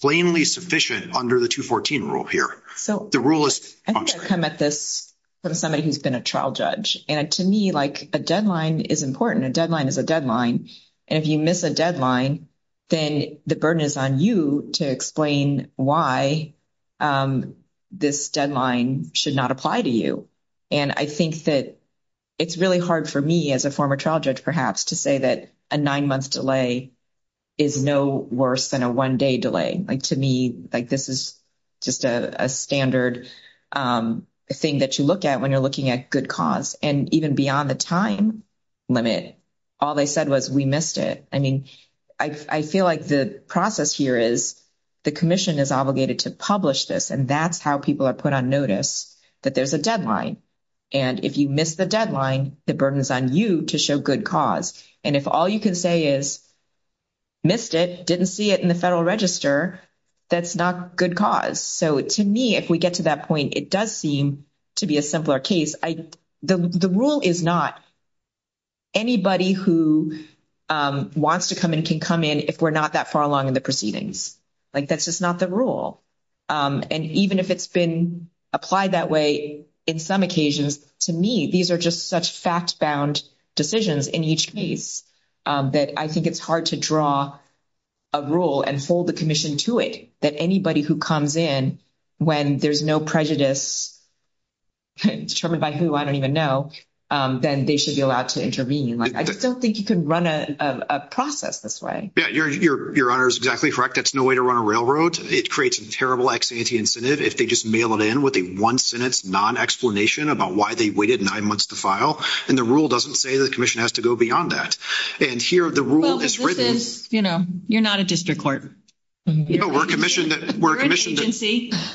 plainly sufficient under the 214 rule here. So the rule is- I think I've come at this from somebody who's been a trial judge. And to me, like a deadline is important. A deadline is a deadline. And if you miss a deadline, then the burden is on you to explain why this deadline should not apply to you. And I think that it's really hard for me as a former trial judge, perhaps, to say that a nine-month delay is no worse than a one-day delay. Like, to me, like this is just a standard thing that you look at when you're looking at good cause. And even beyond the time limit, all they said was, we missed it. I mean, I feel like the process here is the commission is obligated to publish this. And that's how people are put on notice that there's a deadline. And if you miss the deadline, the burden is on you to show good cause. And if all you can say is, missed it, didn't see it in the Federal Register, that's not good cause. So to me, if we get to that point, it does seem to be a simpler case. The rule is not anybody who wants to come in can come in if we're not that far along in the proceedings. Like, that's just not the rule. And even if it's been applied that way in some occasions, to me, these are just such fact-bound decisions in each case that I think it's hard to draw a rule and fold the commission to it. That anybody who comes in when there's no prejudice determined by who, I don't even know, then they should be allowed to intervene. Like, I just don't think you can run a process this way. Your Honor is exactly correct. That's no way to run a railroad. It creates a terrible ex-ante incentive if they just mail it in with a one-sentence non-explanation about why they waited nine months to file. And the rule doesn't say the commission has to go beyond that. And here, the rule is written. You know, you're not a district court. We're a commission that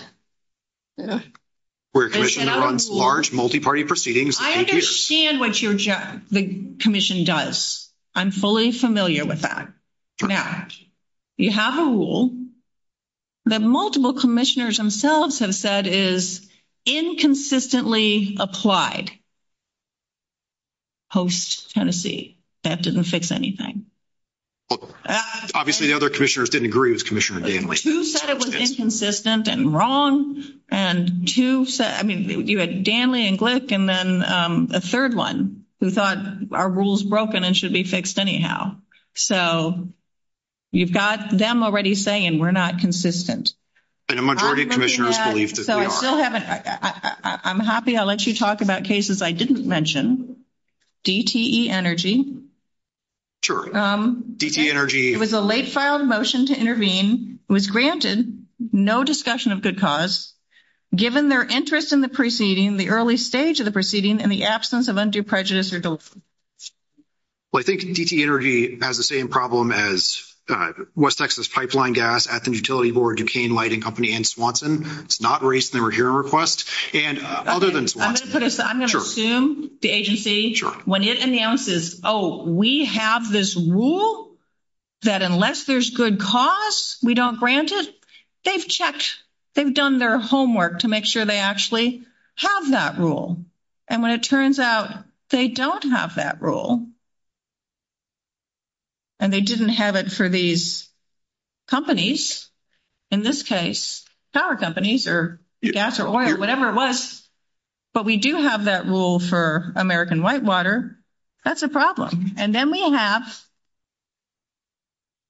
runs large, multi-party proceedings. I understand what the commission does. I'm fully familiar with that. Now, you have a rule that multiple commissioners themselves have said is inconsistently applied post-Tennessee. That doesn't fix anything. Well, obviously, the other commissioners didn't agree with Commissioner Danley. Who said it was inconsistent and wrong? And who said... I mean, you had Danley and Glick, and then a third one who thought our rule's broken and should be fixed anyhow. So, you've got them already saying we're not consistent. And a majority of commissioners believe that they are. I'm happy I let you talk about cases I didn't mention. DTE Energy. Sure. DTE Energy. It was a late-filed motion to intervene. It was granted no discussion of good cause, given their interest in the preceding, the early stage of the proceeding, and the absence of undue prejudice or dolefulness. Well, I think DTE Energy has the same problem as West Texas Pipeline Gas, Athens Utility Board, Duquesne Lighting Company, and Swanson. It's not raised in the review request. And other than Swanson... I'm going to assume the agency... We have this rule that unless there's good cause, we don't grant it. They've checked. They've done their homework to make sure they actually have that rule. And when it turns out they don't have that rule, and they didn't have it for these companies, in this case, power companies, or gas, or oil, or whatever it was, but we do have that rule for American Whitewater, that's a problem. And then we have...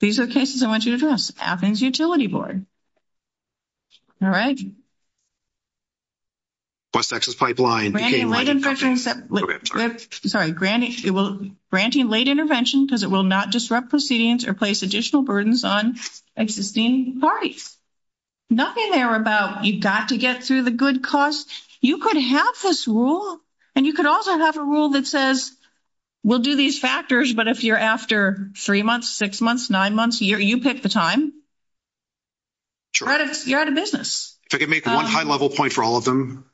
These are the cases I want you to address. Athens Utility Board. All right. Granting late intervention because it will not disrupt proceedings or place additional burdens on existing parties. Nothing there about you've got to get through the good cause. You could have this rule. And you could also have a rule that says, we'll do these factors, but if you're after three months, six months, nine months, you pick the time. You're out of business. If I could make one high-level point for all of them,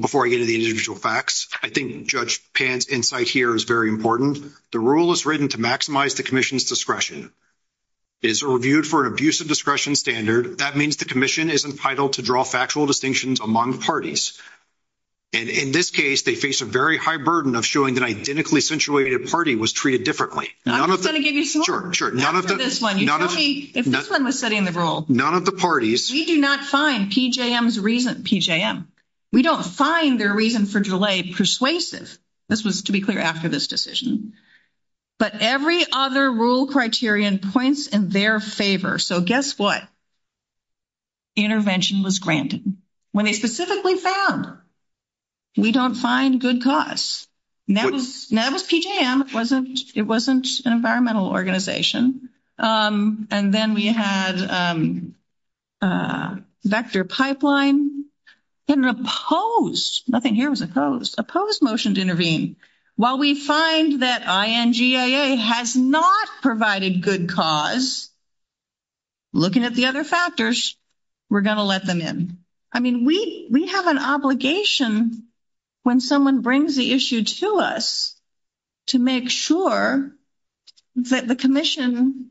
before I get into the individual facts. I think Judge Pan's insight here is very important. The rule is written to maximize the commission's discretion. It's reviewed for an abusive discretion standard. That means the commission is entitled to draw factual distinctions among parties. And in this case, they face a very high burden of showing an identically situated party was treated differently. I'm just going to give you some more. Sure, sure. None of the... This one. None of the... If this one was setting the rule... None of the parties... We do not find PJM's reason... PJM. We don't find their reason for delay persuasive. This was to be clear after this decision. But every other rule criterion points in their favor. So guess what? Intervention was granted. When it specifically found we don't find good cause. Now with PJM, it wasn't an environmental organization. And then we had vector pipeline and an opposed... Nothing here was opposed. Opposed motion to intervene. While we find that INGIA has not provided good cause, looking at the other factors, we're going to let them in. I mean, we have an obligation when someone brings the issue to us to make sure that the commission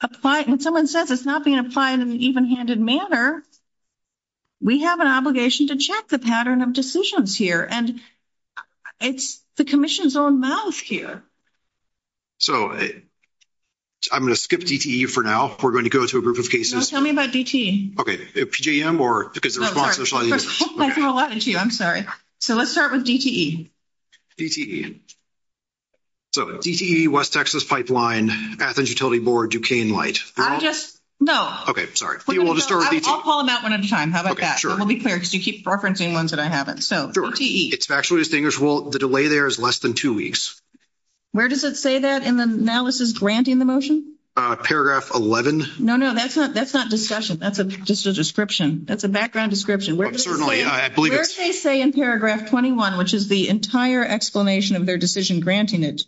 apply... When someone says it's not being applied in an even-handed manner, we have an obligation to check the pattern of decisions here. And it's the commission's own mouth here. So I'm going to skip DTE for now. We're going to go to a group of cases. No, tell me about DTE. Okay. PJM or... Oh, sorry. I threw a lot at you. I'm sorry. So let's start with DTE. DTE. So DTE, West Texas Pipeline, Athens Utility Board, Duquesne Light. I just... No. Okay. Sorry. You want to start with DTE. I'll call them out one at a time. How about that? We'll be clear because you keep referencing ones that I haven't. So DTE. It's factually distinguishable. The delay there is less than two weeks. Where does it say that in the analysis granting the motion? Paragraph 11. No, no, that's not discussion. That's just a description. That's a background description. Well, certainly, I believe... Where does it say in paragraph 21, which is the entire explanation of their decision granting it,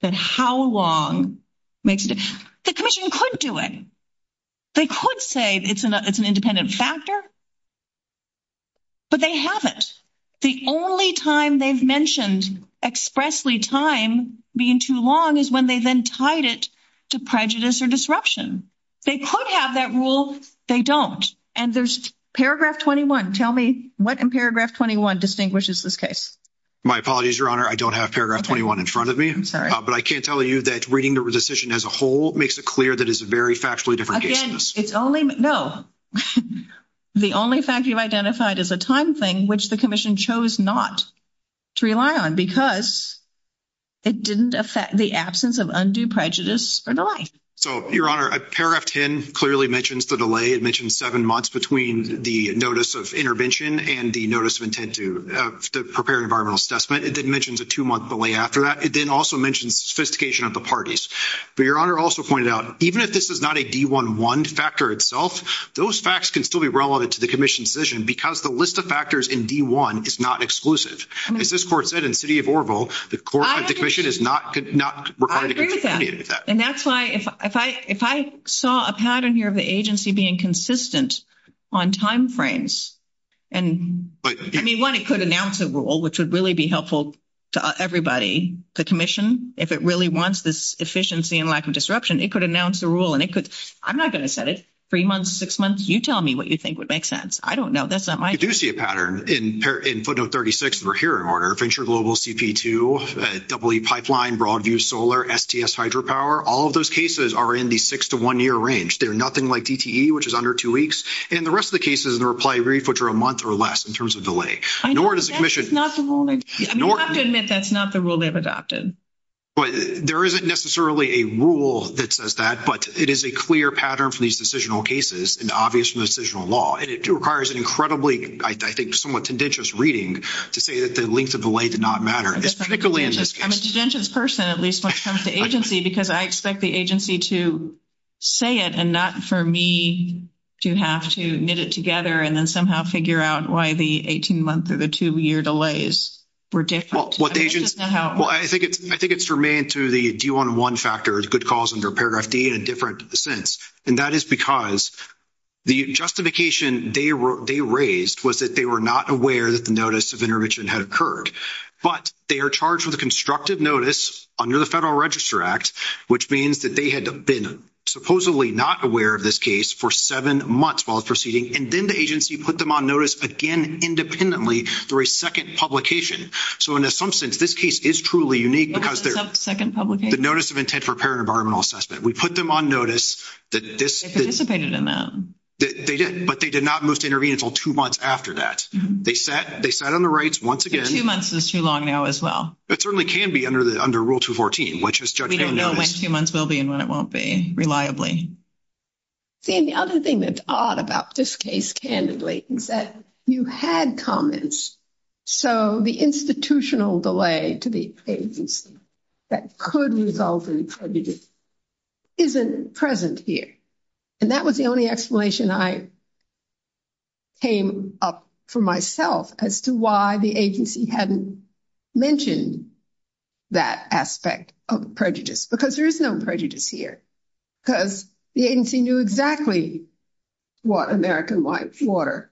that how long makes it... The commission could do it. They could say it's an independent factor. But they haven't. The only time they've mentioned expressly time being too long is when they then tied it to prejudice or disruption. They could have that rule. They don't. And there's paragraph 21. Tell me what in paragraph 21 distinguishes this case. My apologies, Your Honor. I don't have paragraph 21 in front of me. I'm sorry. But I can tell you that reading the decision as a whole makes it clear that it's a very factually different case. Again, it's only... No. The only fact you've identified is a time thing, which the commission chose not to rely on because it didn't affect the absence of undue prejudice or the like. So, Your Honor, paragraph 10 clearly mentions the delay. It mentions seven months between the notice of intervention and the notice of intent to prepare an environmental assessment. It then mentions a two-month delay after that. It then also mentions sophistication of the parties. But Your Honor also pointed out, even if this is not a D-1-1 factor itself, those facts can still be relevant to the commission's decision because the list of factors in D-1 is not exclusive. As this court said in the city of Oroville, the commission is not required to do any of that. And that's why, if I saw a pattern here of the agency being consistent on timeframes and, I mean, one, it could announce a rule, which would really be helpful to everybody, the commission. If it really wants this efficiency and lack of disruption, it could announce a rule and it could... I'm not going to set it. Three months, six months, you tell me what you think would make sense. I don't know. That's not my... You do see a pattern. In footnote 36, we're here in order. Venture Global, CP2, EE Pipeline, Broadview Solar, STS Hydropower, all of those cases are in the six-to-one-year range. They're nothing like DTE, which is under two weeks. And the rest of the cases in the reply brief, which are a month or less in terms of delay. I know, but that's not the rule they've adopted. You have to admit that's not the rule they've adopted. But there isn't necessarily a rule that says that, but it is a clear pattern for these decisional cases and obvious from the decisional law. And it requires incredibly, I think, somewhat tendentious reading to say that the length of delay did not matter, particularly in this case. I'm a tendentious person, at least when it comes to agency, because I expect the agency to say it and not for me to have to knit it together and then somehow figure out why the 18-month or the two-year delays were different. Well, I think it's remained to the do you want one factor is good cause under paragraph D and different to the sentence. And that is because the justification they raised was that they were not aware that the intervention had occurred. But they are charged with a constructive notice under the Federal Register Act, which means that they had been supposedly not aware of this case for seven months while it's proceeding. And then the agency put them on notice again independently for a second publication. So, in some sense, this case is truly unique because there's the notice of intent for parent environmental assessment. We put them on notice that this- They participated in that. They did. But they did not move to intervene until two months after that. They sat on the rights once again. Two months is too long now as well. It certainly can be under Rule 214, which is- We don't know when two months will be and when it won't be reliably. See, and the other thing that's odd about this case, candidly, is that you had comments, so the institutional delay to the agency that could result in prejudice isn't present here. And that was the only explanation I came up for myself as to why the agency hadn't mentioned that aspect of prejudice. Because there is no prejudice here. Because the agency knew exactly what American Life Water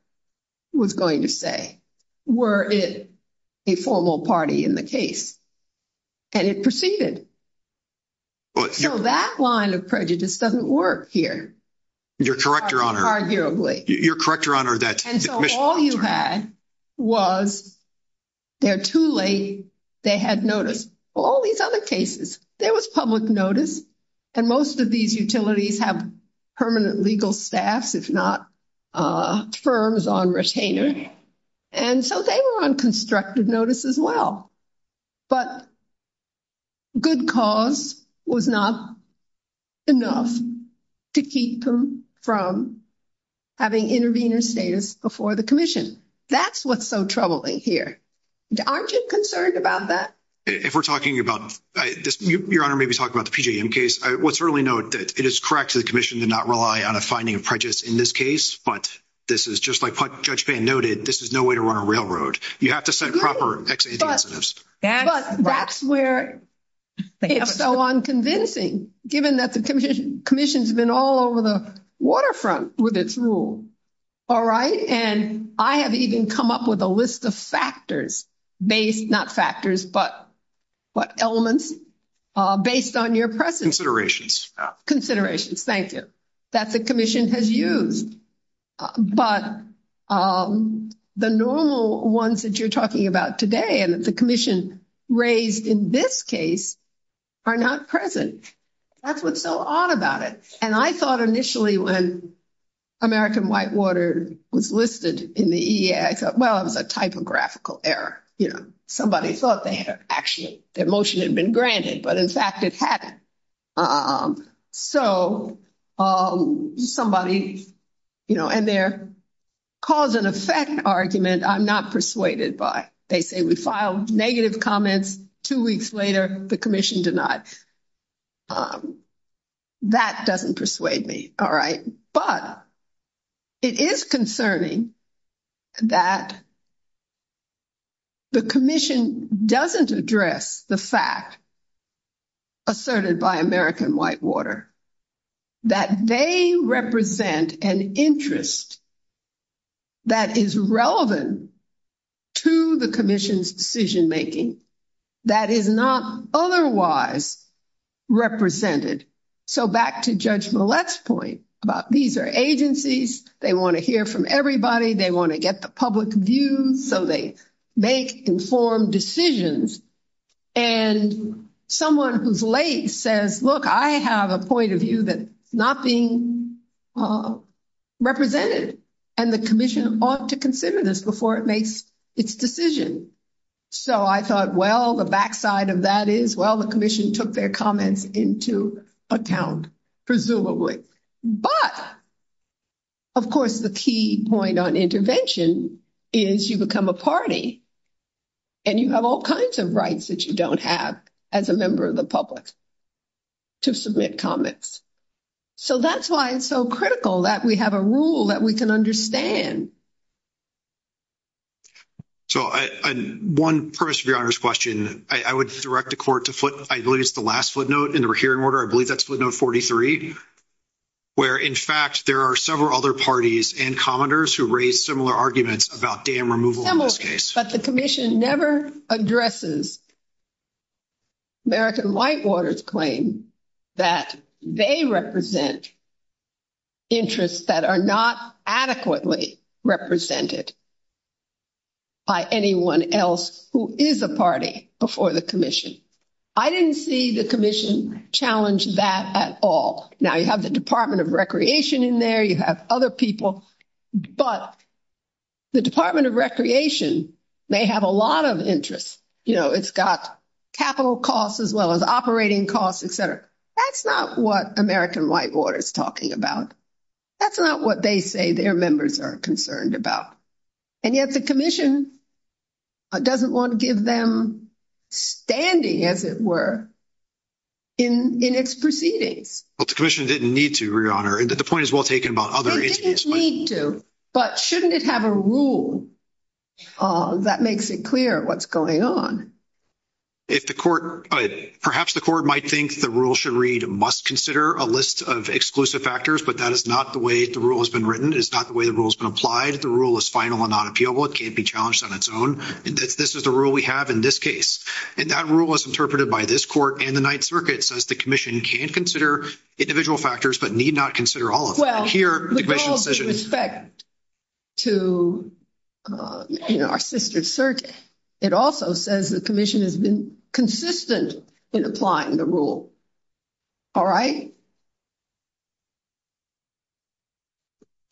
was going to say, were it a formal party in the case. And it proceeded. So that line of prejudice doesn't work here. You're correct, Your Honor. You're correct, Your Honor, that- And so all you had was they're too late, they had notice. All these other cases, there was public notice. And most of these utilities have permanent legal staff, if not firms on retainer. And so they were on constructive notice as well. But good cause was not enough to keep them from having intervener status before the commission. That's what's so troubling here. Aren't you concerned about that? If we're talking about- Your Honor may be talking about the PJM case. I will certainly note that it is correct for the commission to not rely on a finding of prejudice in this case. But this is just like what Judge Bann noted, this is no way to run a railroad. You have to set proper- But that's where it's so unconvincing, given that the commission's been all over the waterfront with its rule. All right? And I have even come up with a list of factors based, not factors, but what elements, based on your presence. Considerations. Considerations, thank you, that the commission has used. But the normal ones that you're talking about today, and that the commission raised in this case, are not present. That's what's so odd about it. And I thought initially when American Whitewater was listed in the EA, I thought, well, it's a typographical error. You know, somebody thought they had actually- their motion had been granted, but in fact it hadn't. So somebody, you know, and their cause and effect argument, I'm not persuaded by. They say we filed negative comments, two weeks later, the commission denies. That doesn't persuade me. All right? But it is concerning that the commission doesn't address the fact, asserted by American Whitewater, that they represent an interest that is relevant to the commission's decision-making that is not otherwise represented. So back to Judge Millett's point about these are agencies. They want to hear from everybody. They want to get the public view, so they make informed decisions. And someone who's late says, look, I have a point of view that's not being represented, and the commission ought to consider this before it makes its decision. So I thought, well, the backside of that is, well, the commission took their comments into account, presumably. But, of course, the key point on intervention is you become a party, and you have all kinds of rights that you don't have as a member of the public to submit comments. So that's why it's so critical that we have a rule that we can understand. So one, first, to be honest, question, I would direct the court to flip, I believe it's the last footnote in the hearing order. I believe that's footnote 43, where, in fact, there are several other parties and commenters who raised similar arguments about dam removal in this case. But the commission never addresses American Whitewater's claim that they represent interests that are not adequately represented by anyone else who is a party before the commission. I didn't see the commission challenge that at all. Now, you have the Department of Recreation in there. You have other people. But the Department of Recreation may have a lot of interest. You know, it's got capital costs as well as operating costs, et cetera. That's not what American Whitewater is talking about. That's not what they say their members are concerned about. And yet the commission doesn't want to give them standing, as it were, in its proceedings. Well, the commission didn't need to, Your Honor. The point is well taken about other entities. It didn't need to. But shouldn't it have a rule that makes it clear what's going on? If the court, perhaps the court might think the rule should read, must consider a list of exclusive factors. But that is not the way the rule has been written. It is not the way the rule has been applied. The rule is final and unappealable. It can't be challenged on its own. This is the rule we have in this case. And that rule is interpreted by this court and the Ninth Circuit, says the commission can consider individual factors, but need not consider all of them. Well, with all due respect to our sister circuit, it also says the commission has been consistent in applying the rule. All right?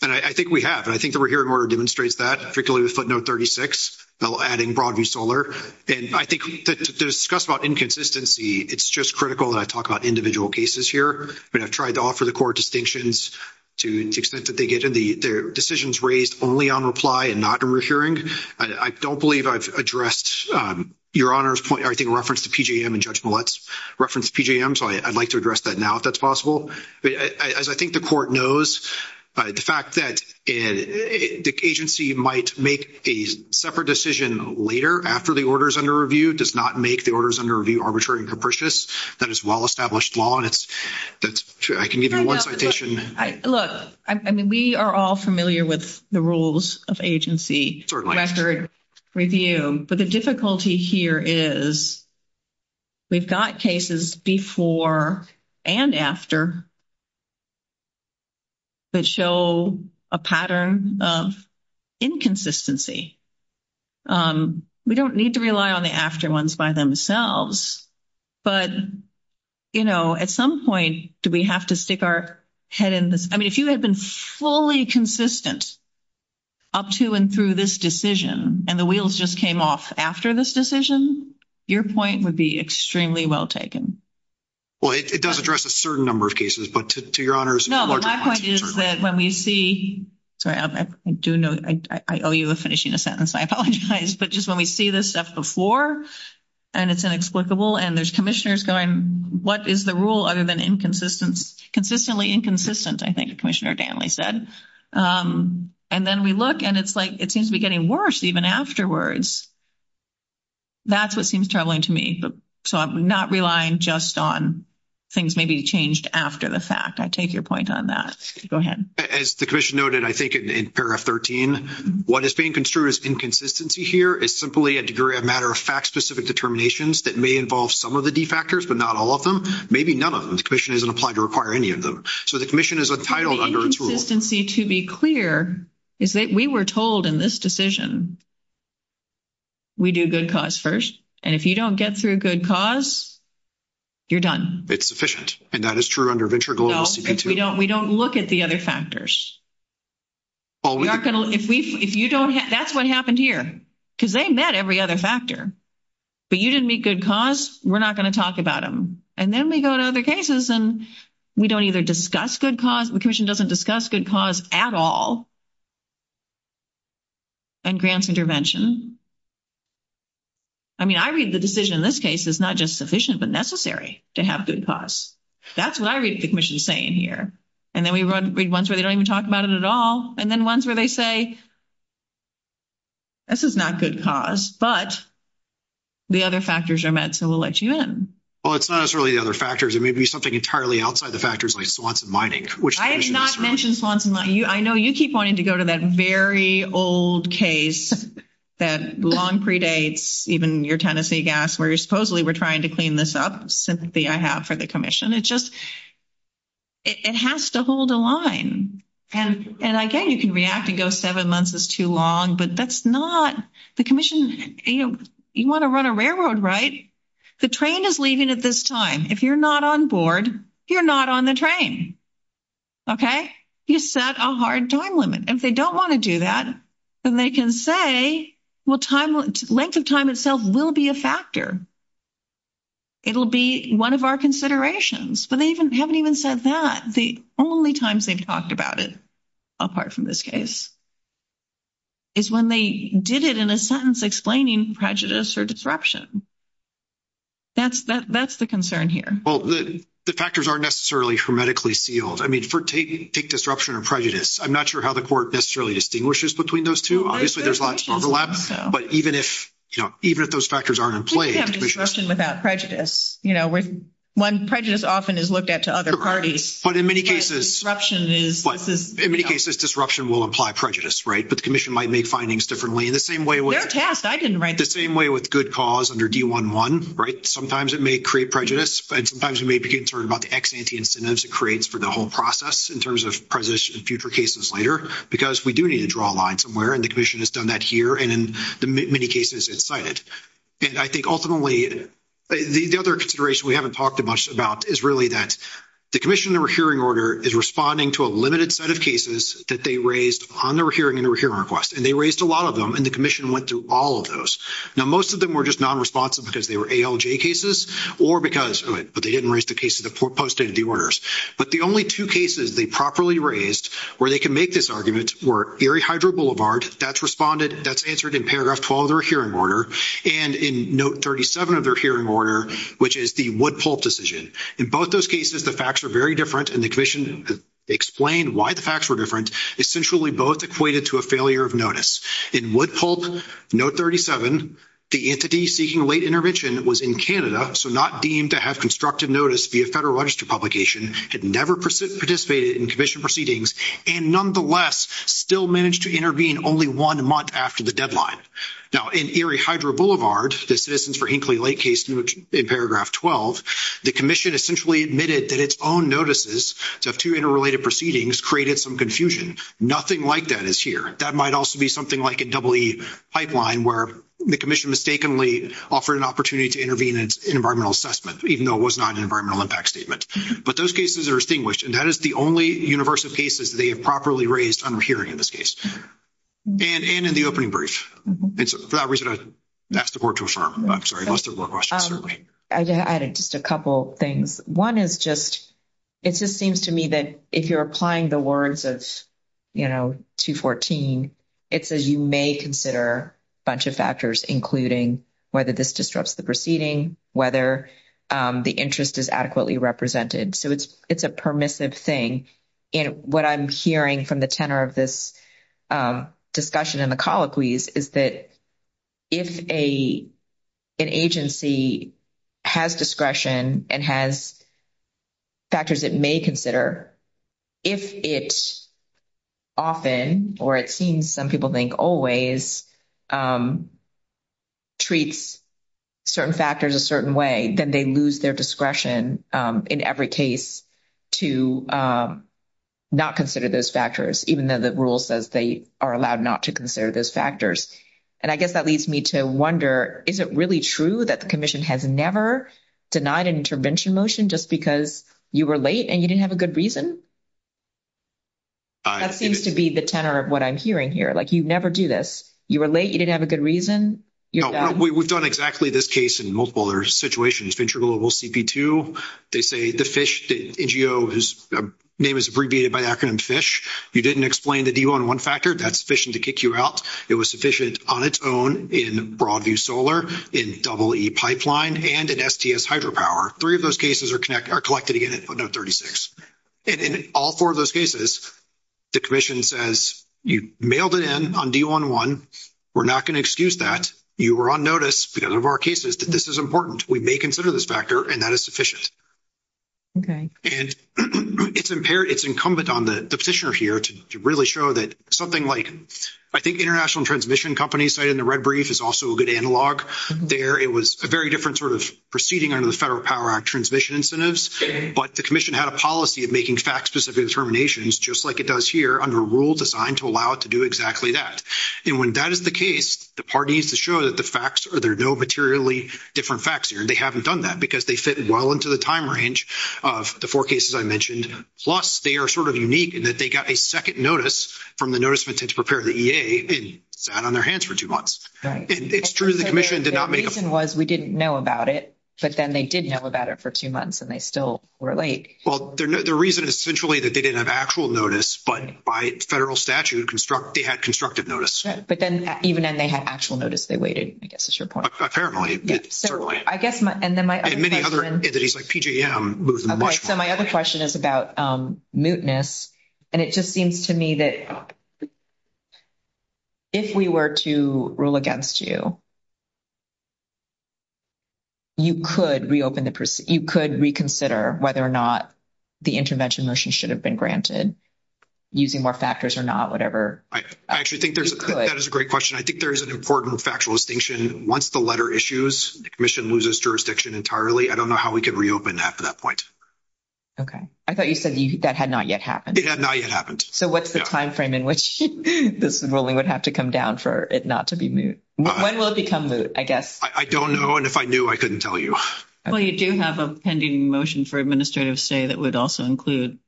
And I think we have. And I think that we're here in order to demonstrate that, particularly with footnote 36, adding Broadway Solar. And I think to discuss about inconsistency, it's just critical that I talk about individual cases here. But I've tried to offer the court distinctions to the extent that they get in. Their decisions raised only on reply and not in referring. I don't believe I've addressed Your Honor's point. I think reference to PJM and Judge Millett's reference to PJM. So I'd like to address that now if that's possible. As I think the court knows, the fact that the agency might make a separate decision later after the order is under review does not make the order is under review arbitrary and capricious. That is well-established law. And that's true. I can give you one citation. Look, I mean, we are all familiar with the rules of agency after review. But the difficulty here is we've got cases before and after that show a pattern of inconsistency. We don't need to rely on the after ones by themselves. But, you know, at some point, do we have to stick our head in this? I mean, if you had been fully consistent up to and through this decision, and the wheels just came off after this decision, your point would be extremely well taken. Well, it does address a certain number of cases. But to Your Honor's larger question. No, my point is that when we see, sorry, I do know, I owe you a finishing sentence. I apologize. But just when we see this stuff before, and it's inexplicable, and there's commissioners going, what is the rule other than inconsistency? Consistently inconsistent, I think Commissioner Danley said. And then we look and it's like, it seems to be getting worse even afterwards. That's what seems troubling to me. So I'm not relying just on things may be changed after the fact. I take your point on that. Go ahead. As the commission noted, I think in paragraph 13, what is being construed as inconsistency here is simply a degree of matter of fact, specific determinations that may involve some of the D factors, but not all of them. Maybe none of them. The commission isn't applied to require any of them. So the commission is entitled under its rule. Inconsistency, to be clear, is that we were told in this decision, we do good cause first. And if you don't get through good cause, you're done. It's sufficient. And that is true under Venture Global CP2. We don't look at the other factors. If you don't, that's what happened here. Because they met every other factor. But you didn't meet good cause. We're not going to talk about them. And then we go to other cases and we don't either discuss good cause. The commission doesn't discuss good cause at all. And grants intervention. I mean, I read the decision in this case is not just sufficient, but necessary to have good cause. That's what I read the commission saying here. And then we read ones where they don't even talk about it at all. And then ones where they say, this is not good cause. But the other factors are met. So we'll let you in. Well, it's not necessarily the other factors. It may be something entirely outside the factors like Swanson Mining. I did not mention Swanson Mining. I know you keep wanting to go to that very old case that long predates even your Tennessee gas, where supposedly we're trying to clean this up. Cynthia, I have for the commission. It just, it has to hold a line. And again, you can react and go seven months is too long. But that's not, the commission, you want to run a railroad, right? The train is leaving at this time. If you're not on board, you're not on the train. Okay? You set a hard time limit. If they don't want to do that, then they can say, well, length of time itself will be a factor. It'll be one of our considerations. But they haven't even said that. The only times they've talked about it, apart from this case, is when they did it in a sentence explaining prejudice or disruption. That's the concern here. Well, the factors aren't necessarily hermetically sealed. I mean, for take disruption and prejudice, I'm not sure how the court necessarily distinguishes between those two. Obviously, there's lots of overlap. But even if, you know, even if those factors aren't in play, disruption without prejudice, you know, when prejudice often is looked at to other parties, but in many cases, disruption is, in many cases, disruption will apply prejudice, right? But the commission might make findings differently. In the same way with good cause under D-1-1, right? Sometimes it may create prejudice, but sometimes you may be concerned about the ex-ante incentives it creates for the whole process, in terms of prejudices in future cases later, because we do need to draw a line somewhere. And the commission has done that here. And in many cases, it's cited. And I think ultimately, the other consideration we haven't talked much about is really that the commission hearing order is responding to a limited set of cases that they raised on their hearing and their hearing request. And they raised a lot of them, and the commission went through all of those. Now, most of them were just non-responsive because they were ALJ cases or because of it, but they didn't raise the cases that posted the orders. But the only two cases they properly raised where they can make this argument were Erie Hydro Boulevard, that's responded, that's answered in paragraph 12 of their hearing order. And in note 37 of their hearing order, which is the Woodpulp decision. In both those cases, the facts were very different, and the commission explained why the facts were different. Essentially, both equated to a failure of notice. In Woodpulp, note 37, the entity seeking late intervention was in Canada, so not deemed to have constructed notice via federal register publication, had never participated in commission proceedings, and nonetheless, still managed to intervene only one month after the deadline. Now, in Erie Hydro Boulevard, the Citizens for Hinkley Lake case in paragraph 12, the commission essentially admitted that its own notices to have two interrelated proceedings created some confusion. Nothing like that is here. That might also be something like a EE pipeline where the commission mistakenly offered an opportunity to intervene in environmental assessment, even though it was not an environmental impact statement. But those cases are distinguished, and that is the only universal cases they have properly raised on the hearing in this case. And in the opening brief, for that reason, I would ask the board to affirm. I'm sorry, most of the questions are made. I'd add just a couple of things. One is just, it just seems to me that if you're applying the words of, you know, 214, it says you may consider a bunch of factors, including whether this disrupts the proceeding, whether the interest is adequately represented. So it's a permissive thing. And what I'm hearing from the tenor of this discussion in the colloquies is that if an agency has discretion and has factors it may consider, if it often, or it seems some people think always, treats certain factors a certain way, then they lose their discretion in every case to not consider those factors, even though the rule says they are allowed not to consider those factors. And I guess that leads me to wonder, is it really true that the commission has never denied an intervention motion just because you were late and you didn't have a good reason? That seems to be the tenor of what I'm hearing here. Like, you never do this. You were late, you didn't have a good reason. You know, we've done exactly this case in multiple other situations. Venture Global CP2, they say the FISH, the NGO is, name is abbreviated by acronym FISH. You didn't explain the D1-1 factor, that's sufficient to kick you out. It was sufficient on its own in Broadview Solar, in EE Pipeline, and in STS Hydropower. Three of those cases are collected again at footnote 36. And in all four of those cases, the commission says you mailed it in on D1-1, we're not going to excuse that. You were on notice because of our cases that this is important. We may consider this factor, and that is sufficient. And it's incumbent on the petitioner here to really show that something like, I think international transmission companies in the red brief is also a good analog there. It was a very different sort of proceeding under the Federal Power Act transmission incentives. But the commission had a policy of making fact-specific determinations just like it does here under a rule designed to allow it to do exactly that. And when that is the case, the parties to show that the facts or there are no materially different facts here, they haven't done that because they fit well into the time range of the four cases I mentioned. Plus, they are sort of unique in that they got a second notice from the Notice of Intentional Repair to the EA, and sat on their hands for two months. It's true the commission did not make a... The reason was we didn't know about it, but then they did know about it for two months and they still were late. Well, the reason essentially that they didn't have actual notice, but by federal statute, they had constructive notice. But then even then they had actual notice. They waited, I guess is your point. A fair amount. I guess my... And then my other question is about mootness. And it just seems to me that if we were to rule against you, you could reopen the... You could reconsider whether or not the intervention motion should have been granted. Using more factors or not, whatever. I actually think that is a great question. I think there is an important factual distinction. Once the letter issues, the commission loses jurisdiction entirely. I don't know how we could reopen that at that point. Okay. I thought you said that had not yet happened. It had not yet happened. So what's the timeframe in which this ruling would have to come down for it not to be moot? When will it become moot, I guess? I don't know. And if I knew, I couldn't tell you. Well, you do have a pending motion for administrative stay that would also include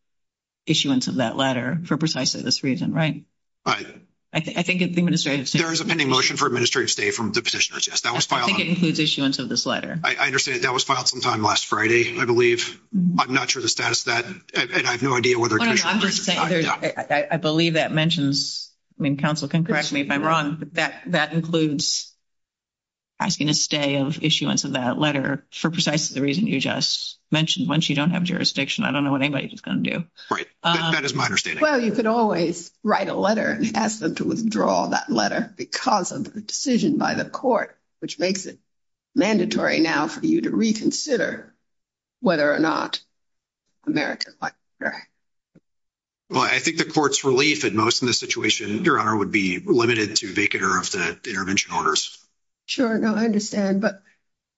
issuance of that letter for precisely this reason, right? I think it's administrative stay. There is a pending motion for administrative stay from the petitioners, yes. That was filed on... I think it includes issuance of this letter. I understand that that was filed sometime last Friday. I believe... I'm not sure the status of that. And I have no idea whether... No, I'm just saying there's... I believe that mentions... I mean, counsel can correct me if I'm wrong, but that includes asking a stay of issuance of that letter for precisely the reason you just mentioned. Once you don't have jurisdiction, I don't know what anybody's going to do. That is my understanding. Well, you could always write a letter and ask them to withdraw that letter because of the decision by the court, which makes it mandatory now for you to reconsider whether or not America's life is at risk. Well, I think the court's relief at most in this situation, Your Honor, would be limited to vacate or offset intervention orders. Sure. No, I understand. But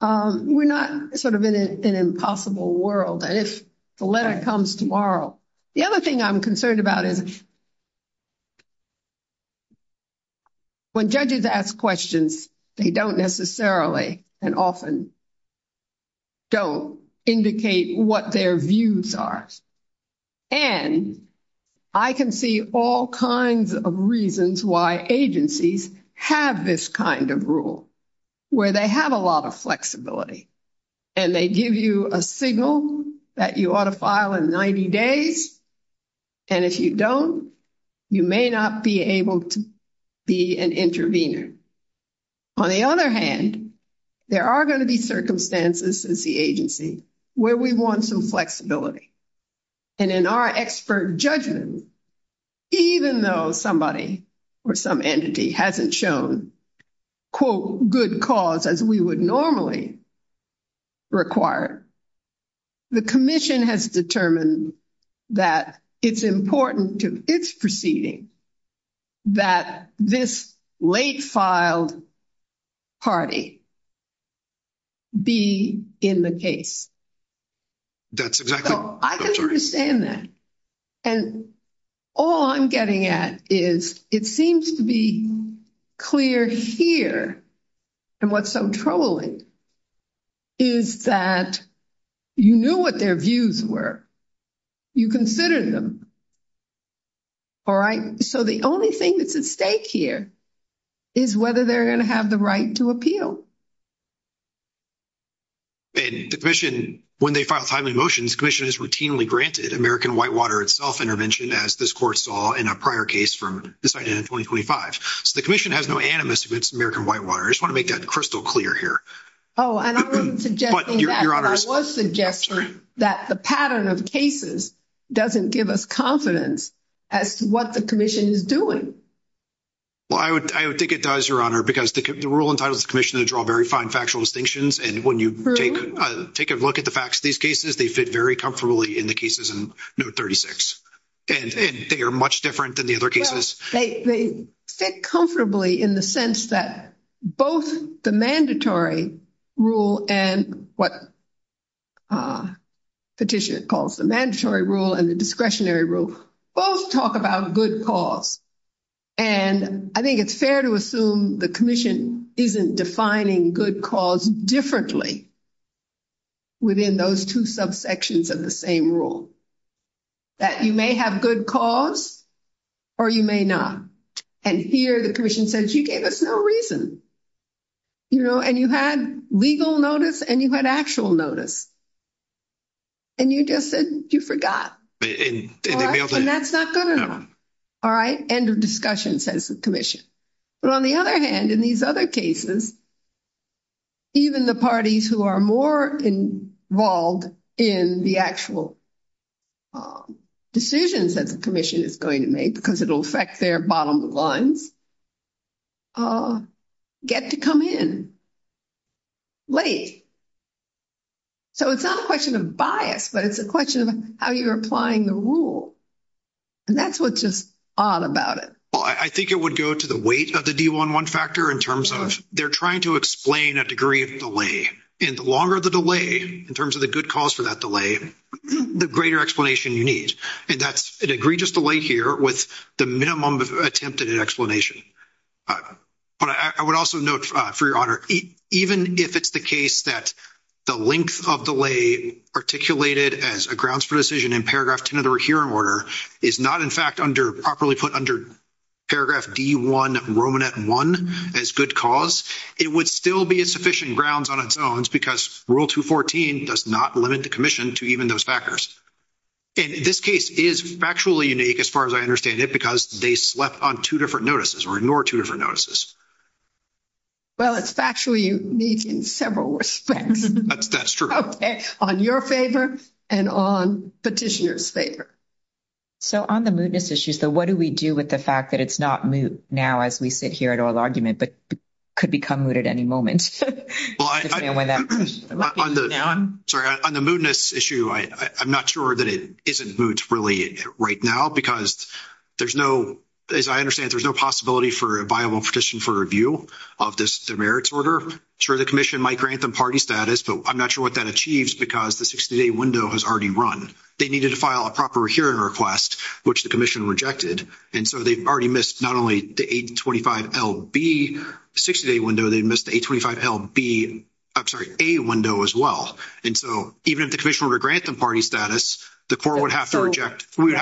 we're not sort of in an impossible world. And if the letter comes tomorrow... The other thing I'm concerned about is when judges ask questions, they don't necessarily and often don't indicate what their views are. And I can see all kinds of reasons why agencies have this kind of rule, where they have a lot of flexibility. And they give you a signal that you ought to file in 90 days. And if you don't, you may not be able to be an intervener. On the other hand, there are going to be circumstances in the agency where we want some flexibility. And in our expert judgment, even though somebody or some entity hasn't shown, quote, good cause as we would normally require, the commission has determined that it's important to its proceeding that this late-filed party be in the case. That's exactly right. I can understand that. And all I'm getting at is it seems to be clear here. And what's so troubling is that you knew what their views were. You considered them. All right. So the only thing that's at stake here is whether they're going to have the right to appeal. And the commission, when they file timely motions, the commission is routinely granted American Whitewater itself intervention, as this court saw in a prior case from this item in 2025. So the commission has no animus against American Whitewater. I just want to make that crystal clear here. Oh, and I wasn't suggesting that, but I was suggesting that the pattern of cases doesn't give us confidence as to what the commission is doing. Well, I would digitize, Your Honor, because the rule entitles the commission to draw very fine factual distinctions. And when you take a look at the facts of these cases, they fit very comfortably in the cases in Note 36. And they are much different than the other cases. They fit comfortably in the sense that both the mandatory rule and what Petitioner calls the mandatory rule and the discretionary rule both talk about a good cause. And I think it's fair to assume the commission isn't defining good cause differently within those two subsections of the same rule, that you may have good cause or you may not. And here, the commission says, you gave us no reason. You know, and you had legal notice and you had actual notice. And you just said you forgot. And that's not going to happen. All right. End of discussion, says the commission. But on the other hand, in these other cases, even the parties who are more involved in the actual decisions that the commission is going to make, because it'll affect their bottom line, get to come in late. So, it's not a question of bias, but it's a question of how you're applying the rule. And that's what's just odd about it. Well, I think it would go to the weight of the D11 factor in terms of they're trying to explain a degree of delay. And the longer the delay, in terms of the good cause for that delay, the greater explanation you need. And that's an egregious delay here with the minimum of attempt at an explanation. All right. But I would also note, for your honor, even if it's the case that the length of delay articulated as a grounds for decision in paragraph 10 of the recurring order is not, in fact, under properly put under paragraph D1, Romanet 1, as good cause, it would still be a sufficient grounds on its own because Rule 214 does not limit the commission to even those factors. And this case is factually unique, as far as I understand it, because they slept on two different notices or ignored two different notices. Well, it's factually unique in several respects. That's true. Okay. On your favor and on petitioner's favor. So on the mootness issue, so what do we do with the fact that it's not moot now, as we sit here at oral argument, but could become mooted at any moment? Sorry. On the mootness issue, I'm not sure that it isn't moot really right now because there's no, as I understand it, there's no possibility for a viable petition for review of this merits order. Sure, the commission might grant them party status, but I'm not sure what that achieves because the 60-day window has already run. They needed to file a proper hearing request, which the commission rejected. And so they've already missed not only the 825LB 60-day window, they missed the 825LB, I'm sorry, A window as well. And so even if the commission were to grant them party status, the court would have to reject, we may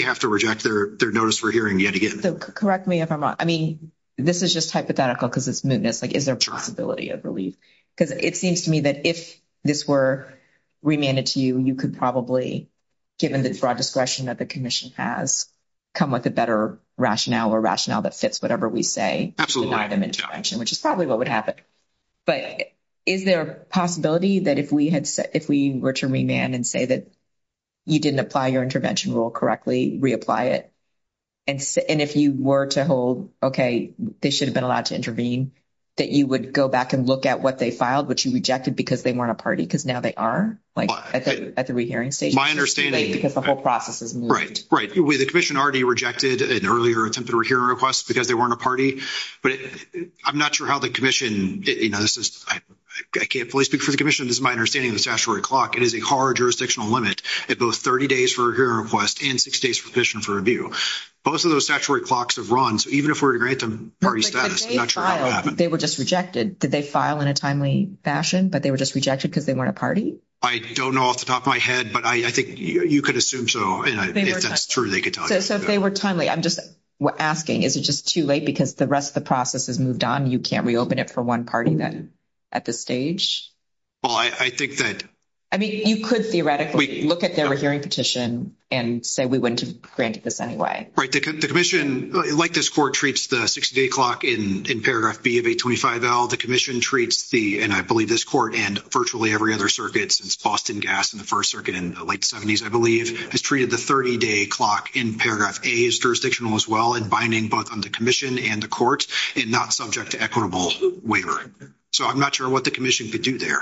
have to reject their notice for hearing yet again. So correct me if I'm wrong. I mean, this is just hypothetical because it's mootness, but is there a possibility of relief? Because it seems to me that if this were remanded to you, you could probably, given this broad discretion that the commission has, come with a better rationale or rationale that fits whatever we say, which is probably what would happen. But is there a possibility that if we had, if we were to remand and say that you didn't apply your intervention rule correctly, reapply it, and if you were to hold, okay, they should have been allowed to intervene, that you would go back and look at what they filed, which you rejected because they weren't a party, because now they are, like I said, at the rehearing stage. My understanding is that the whole process is moot. Right, right. The commission already rejected an earlier attempt at a hearing request because they weren't a party. But I'm not sure how the commission, you know, this is, I can't fully speak for the commission, this is my understanding of the statutory clock. It is a hard jurisdictional limit. It's both 30 days for a hearing request and six days for commission for review. Both of those statutory clocks have run. So even if we were to grant them party status, I'm not sure how that would happen. They were just rejected. Did they file in a timely fashion? But they were just rejected because they weren't a party? I don't know off the top of my head, but I think you could assume so. And if that's true, they could tell you. So if they were timely, I'm just asking, is it just too late? Because the rest of the process is moved on. You can't reopen it for one party then at this stage? Well, I think that... I mean, you could theoretically look at their hearing petition and say we wouldn't have granted this anyway. Right. The commission, like this court, treats the 60-day clock in paragraph B of 825L. The commission treats the, and I believe this court and virtually every other circuit since Boston Gas and the First Circuit in the late 70s, I believe, has treated the 30-day clock in paragraph A as jurisdictional as well and binding both on the commission and the court and not subject to equitable waiver. So I'm not sure what the commission could do there.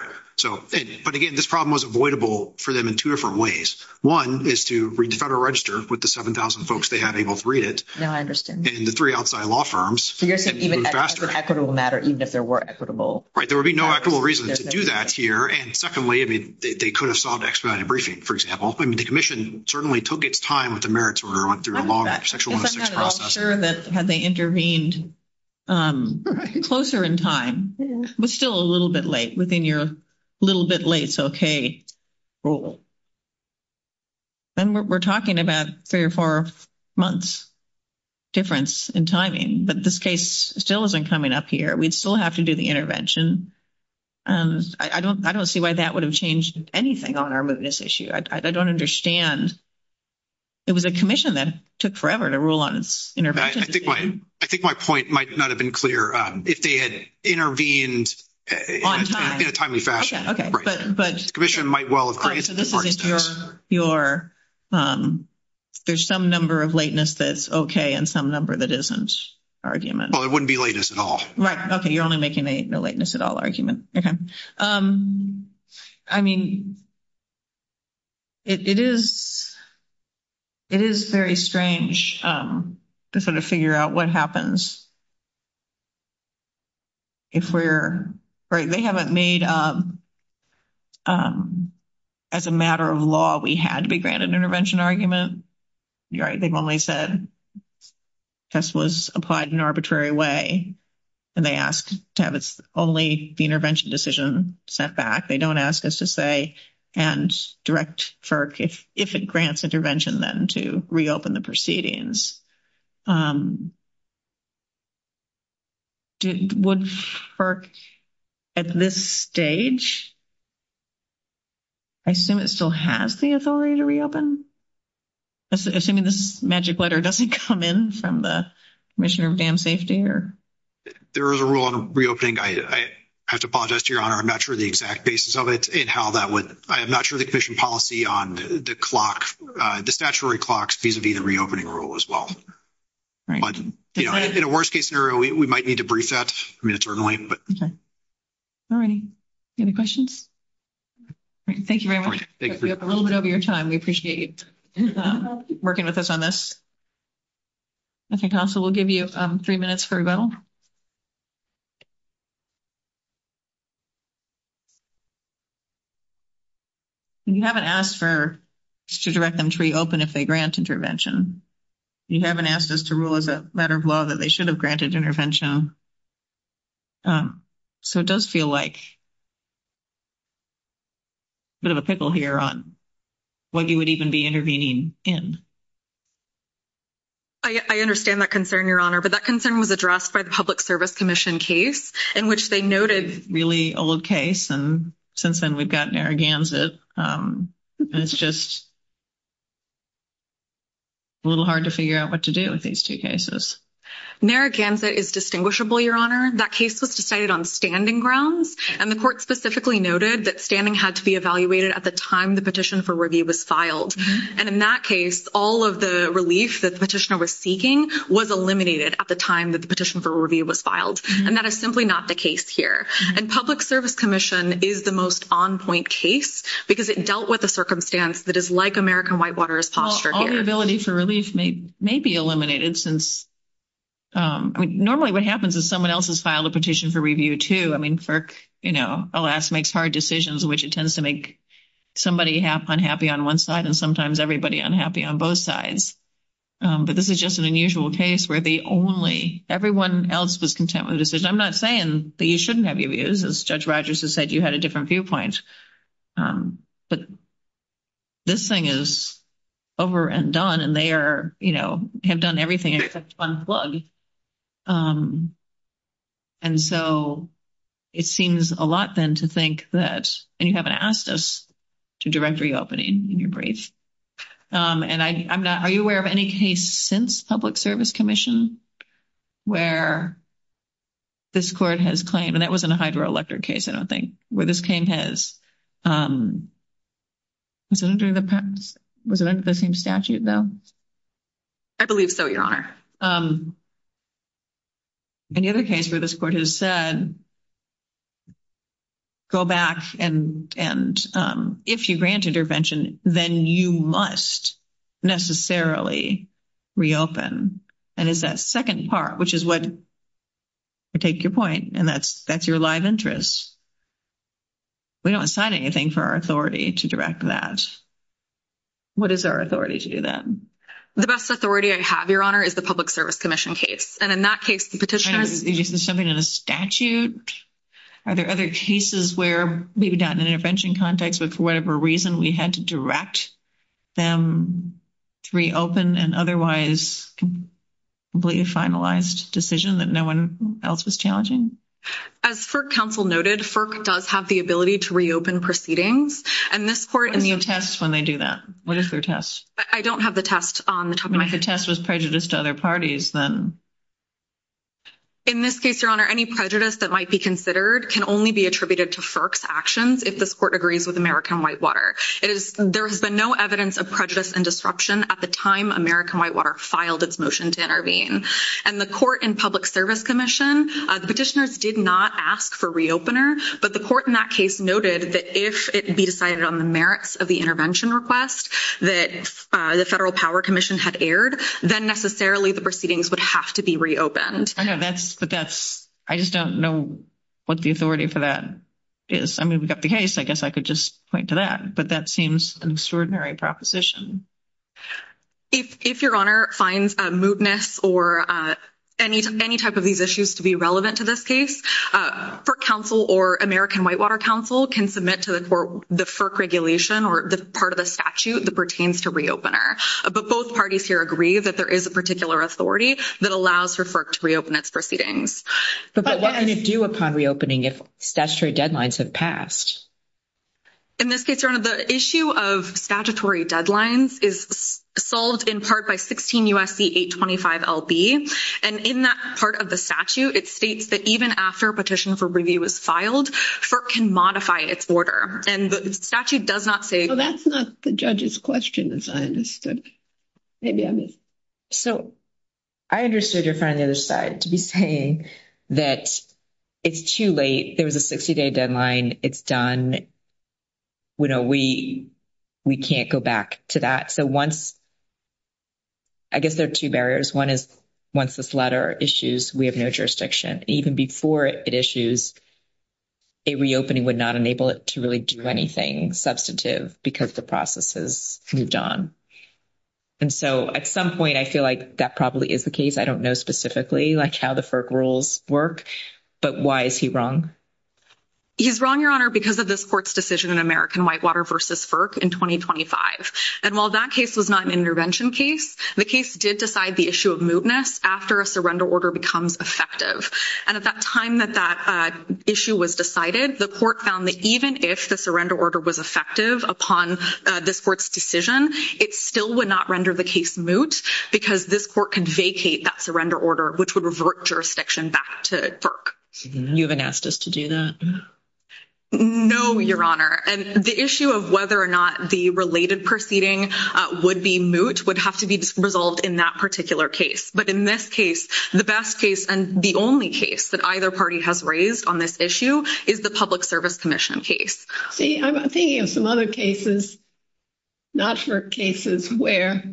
But again, this problem was avoidable for them in two different ways. One is to read the Federal Register with the 7,000 folks they have able to read it. Yeah, I understand. And the three outside law firms... So you're saying even if it's an equitable matter, even if there were equitable... Right. There would be no equitable reason to do that here. And secondly, they could have solved expedited briefing, for example. I mean, the commission certainly took its time with the merits when we went through a long section 106 process. I'm not at all sure that had they intervened closer in time, but still a little bit late within your little bit late, it's okay rule. And we're talking about three or four months difference in timing. But this case still isn't coming up here. We still have to do the intervention. And I don't see why that would have changed anything on our business issue. I don't understand. It was a commission that took forever to rule on intervention. I think my point might not have been clear. If they had intervened in a timely fashion, the commission might well have... Okay, so this is your... There's some number of lateness that's okay and some number that isn't argument. Well, it wouldn't be latest at all. Right. Okay. You're only making the lateness at all argument. I mean, it is very strange to sort of figure out what happens. If we're right, they haven't made as a matter of law, we had to be granted intervention argument. You're right. They've only said this was applied in arbitrary way. And they asked to have only the intervention decision set back. They don't ask us to say and direct for if it grants intervention, then to reopen the proceedings. Would FERC at this stage, I assume it still has the authority to reopen? Assuming this magic letter doesn't come in from the commissioner of dam safety or... There is a rule on reopening. I have to apologize to your honor. I'm not sure the exact basis of it and how that would... I'm not sure the commission policy on the clock, the statutory clocks vis-a-vis the reopening rule as well. Right. In a worst case scenario, we might need to brief that. I mean, it's early. Okay. All right. Any questions? Thank you very much. Thank you. A little bit over your time. We appreciate you working with us on this. I think also we'll give you three minutes for rebuttal. You haven't asked for to direct them to reopen if they grant intervention. You haven't asked us to rule as a matter of law that they should have granted intervention. So it does feel like a bit of a pickle here on when you would even be intervening in. I understand that concern, your honor, but that concern was addressed by the public service commission case in which they noted... Really old case. And since then, we've gotten arrogance that it's just... A little hard to figure out what to do with these two cases. Narragansett is distinguishable, your honor. That case was decided on standing grounds. And the court specifically noted that standing had to be evaluated at the time the petition for review was filed. And in that case, all of the relief that the petitioner was seeking was eliminated at the time that the petition for review was filed. And that is simply not the case here. And public service commission is the most on-point case because it dealt with a circumstance that is like American Whitewater's posture here. The liability for relief may be eliminated since... Normally what happens is someone else has filed a petition for review too. I mean, FERC, you know, alas, makes hard decisions which it tends to make somebody half unhappy on one side and sometimes everybody unhappy on both sides. But this is just an unusual case where they only... Everyone else was content with the decision. I'm not saying that you shouldn't have your views. As Judge Rogers has said, you had a different viewpoint. But this thing is over and done and they are, you know, have done everything except one plug. And so it seems a lot then to think that... And you haven't asked us to direct reopening in your brief. And I'm not... Are you aware of any case since public service commission where this court has claimed... And that wasn't a hydroelectric case, I don't think. Where this claim has... Was it under the same statute though? I believe so, Your Honor. Any other case where this court has said, go back and if you granted your pension, then you must necessarily reopen. And it's that second part, which is what... I take your point and that's your live interest. We don't assign anything for our authority to direct that. What is our authority to do that? The best authority I have, Your Honor, is the public service commission case. And in that case, the petition... Is this something in a statute? Are there other cases where maybe not an intervention context, but for whatever reason we had to direct them to reopen an otherwise completely finalized decision that no one else is challenging? As FERC council noted, FERC does have the ability to reopen proceedings. And this court... And you test when they do that. What is their test? I don't have the test on the top of my head. If the test was prejudice to other parties, then... In this case, Your Honor, any prejudice that might be considered can only be attributed to FERC's actions if this court agrees with American Whitewater. There has been no evidence of prejudice and disruption at the time American Whitewater filed its motion to intervene. And the court in public service commission, the petitioners did not ask for reopener, but the court in that case noted that if it would be decided on the merits of the intervention request that the federal power commission had aired, then necessarily the proceedings would have to be reopened. I just don't know what the authority for that is. I mean, we've got the case. I guess I could just point to that, but that seems an extraordinary proposition. If Your Honor finds a moodness or any type of these issues to be relevant to this case, FERC Council or American Whitewater Council can submit to the FERC regulation or the part of the statute that pertains to reopener. But both parties here agree that there is a particular authority that allows for FERC to reopen its proceedings. But what can it do upon reopening if statutory deadlines have passed? In this case, Your Honor, the issue of statutory deadlines is solved in part by 16 U.S.C. 825 L.B. And in that part of the statute, it states that even after a petition for review is filed, FERC can modify its order. And the statute does not say- Well, that's not the judge's question, as I understood. So I understood Your Honor's side to be saying that it's too late. There was a 60-day deadline. It's done. And we can't go back to that. So once, I guess there are two barriers. One is once this letter issues, we have no jurisdiction. Even before it issues, a reopening would not enable it to really do anything substantive because the process has moved on. And so at some point, I feel like that probably is the case. I don't know specifically how the FERC rules work, but why is he wrong? He's wrong, Your Honor, because of this court's decision in American Whitewater v. FERC in 2025. And while that case was not an intervention case, the case did decide the issue of mootness after a surrender order becomes effective. And at that time that that issue was decided, the court found that even if the surrender order was effective upon this court's decision, it still would not render the case moot because this court could vacate that surrender order, which would revert jurisdiction back to FERC. You haven't asked us to do that? No, Your Honor. And the issue of whether or not the related proceeding would be moot would have to be resolved in that particular case. But in this case, the best case and the only case that either party has raised on this issue is the Public Service Commission case. See, I'm thinking of some other cases, not FERC cases, where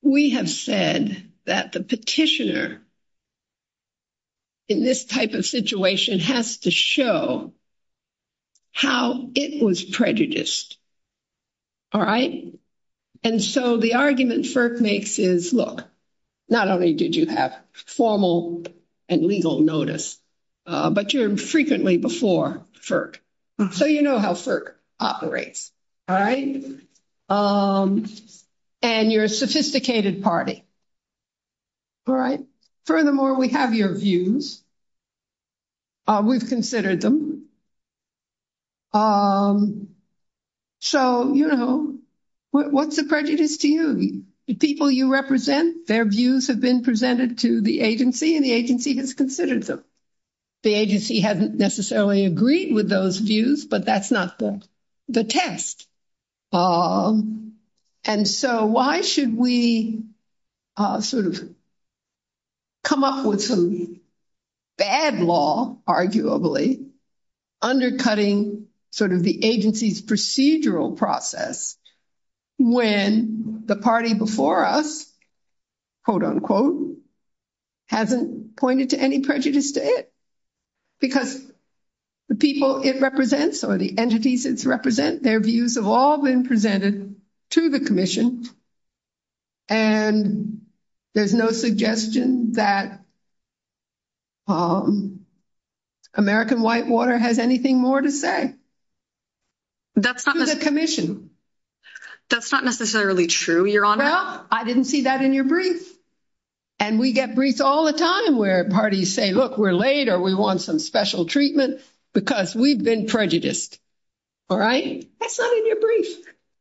we have said that the petitioner in this type of situation has to show how it was prejudiced. All right? And so the argument FERC makes is, look, not only did you have formal and legal notice, but you're frequently before FERC. So you know how FERC operates, all right? And you're a sophisticated party, all right? Furthermore, we have your views. We've considered them. So, you know, what's the prejudice to you? The people you represent, their views have been presented to the agency and the agency has considered them. The agency hasn't necessarily agreed with those views, but that's not the test. And so why should we sort of come up with some bad law, arguably, undercutting sort of the agency's procedural process when the party before us, quote unquote, hasn't pointed to any prejudice to it? Because the people it represents or the entities it represents, their views have all been presented to the commission and there's no suggestion that American Whitewater has anything more to say. That's not the commission. That's not necessarily true, Your Honor. Well, I didn't see that in your brief. And we get briefed all the time where parties say, look, we're late or we want some special treatment because we've been prejudiced, all right? That's not in your brief.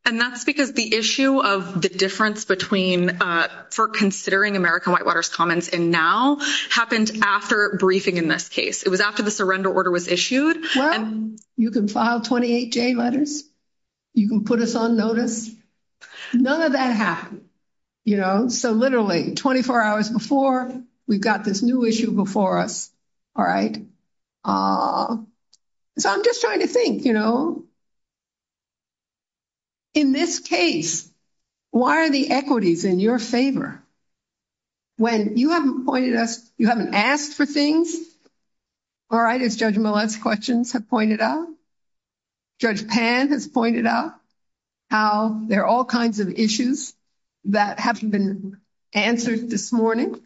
And that's because the issue of the difference between for considering American Whitewater's comments and now happened after briefing in this case. It was after the surrender order was issued. You can file 28 J letters. You can put us on notice. None of that happened, you know? So literally 24 hours before, we've got this new issue before us, all right? So I'm just trying to think, you know? In this case, why are the equities in your favor when you haven't pointed us, you haven't asked for things, all right? As Judge Millett's questions have pointed out. Judge Pan has pointed out how there are all kinds of issues that haven't been answered this morning.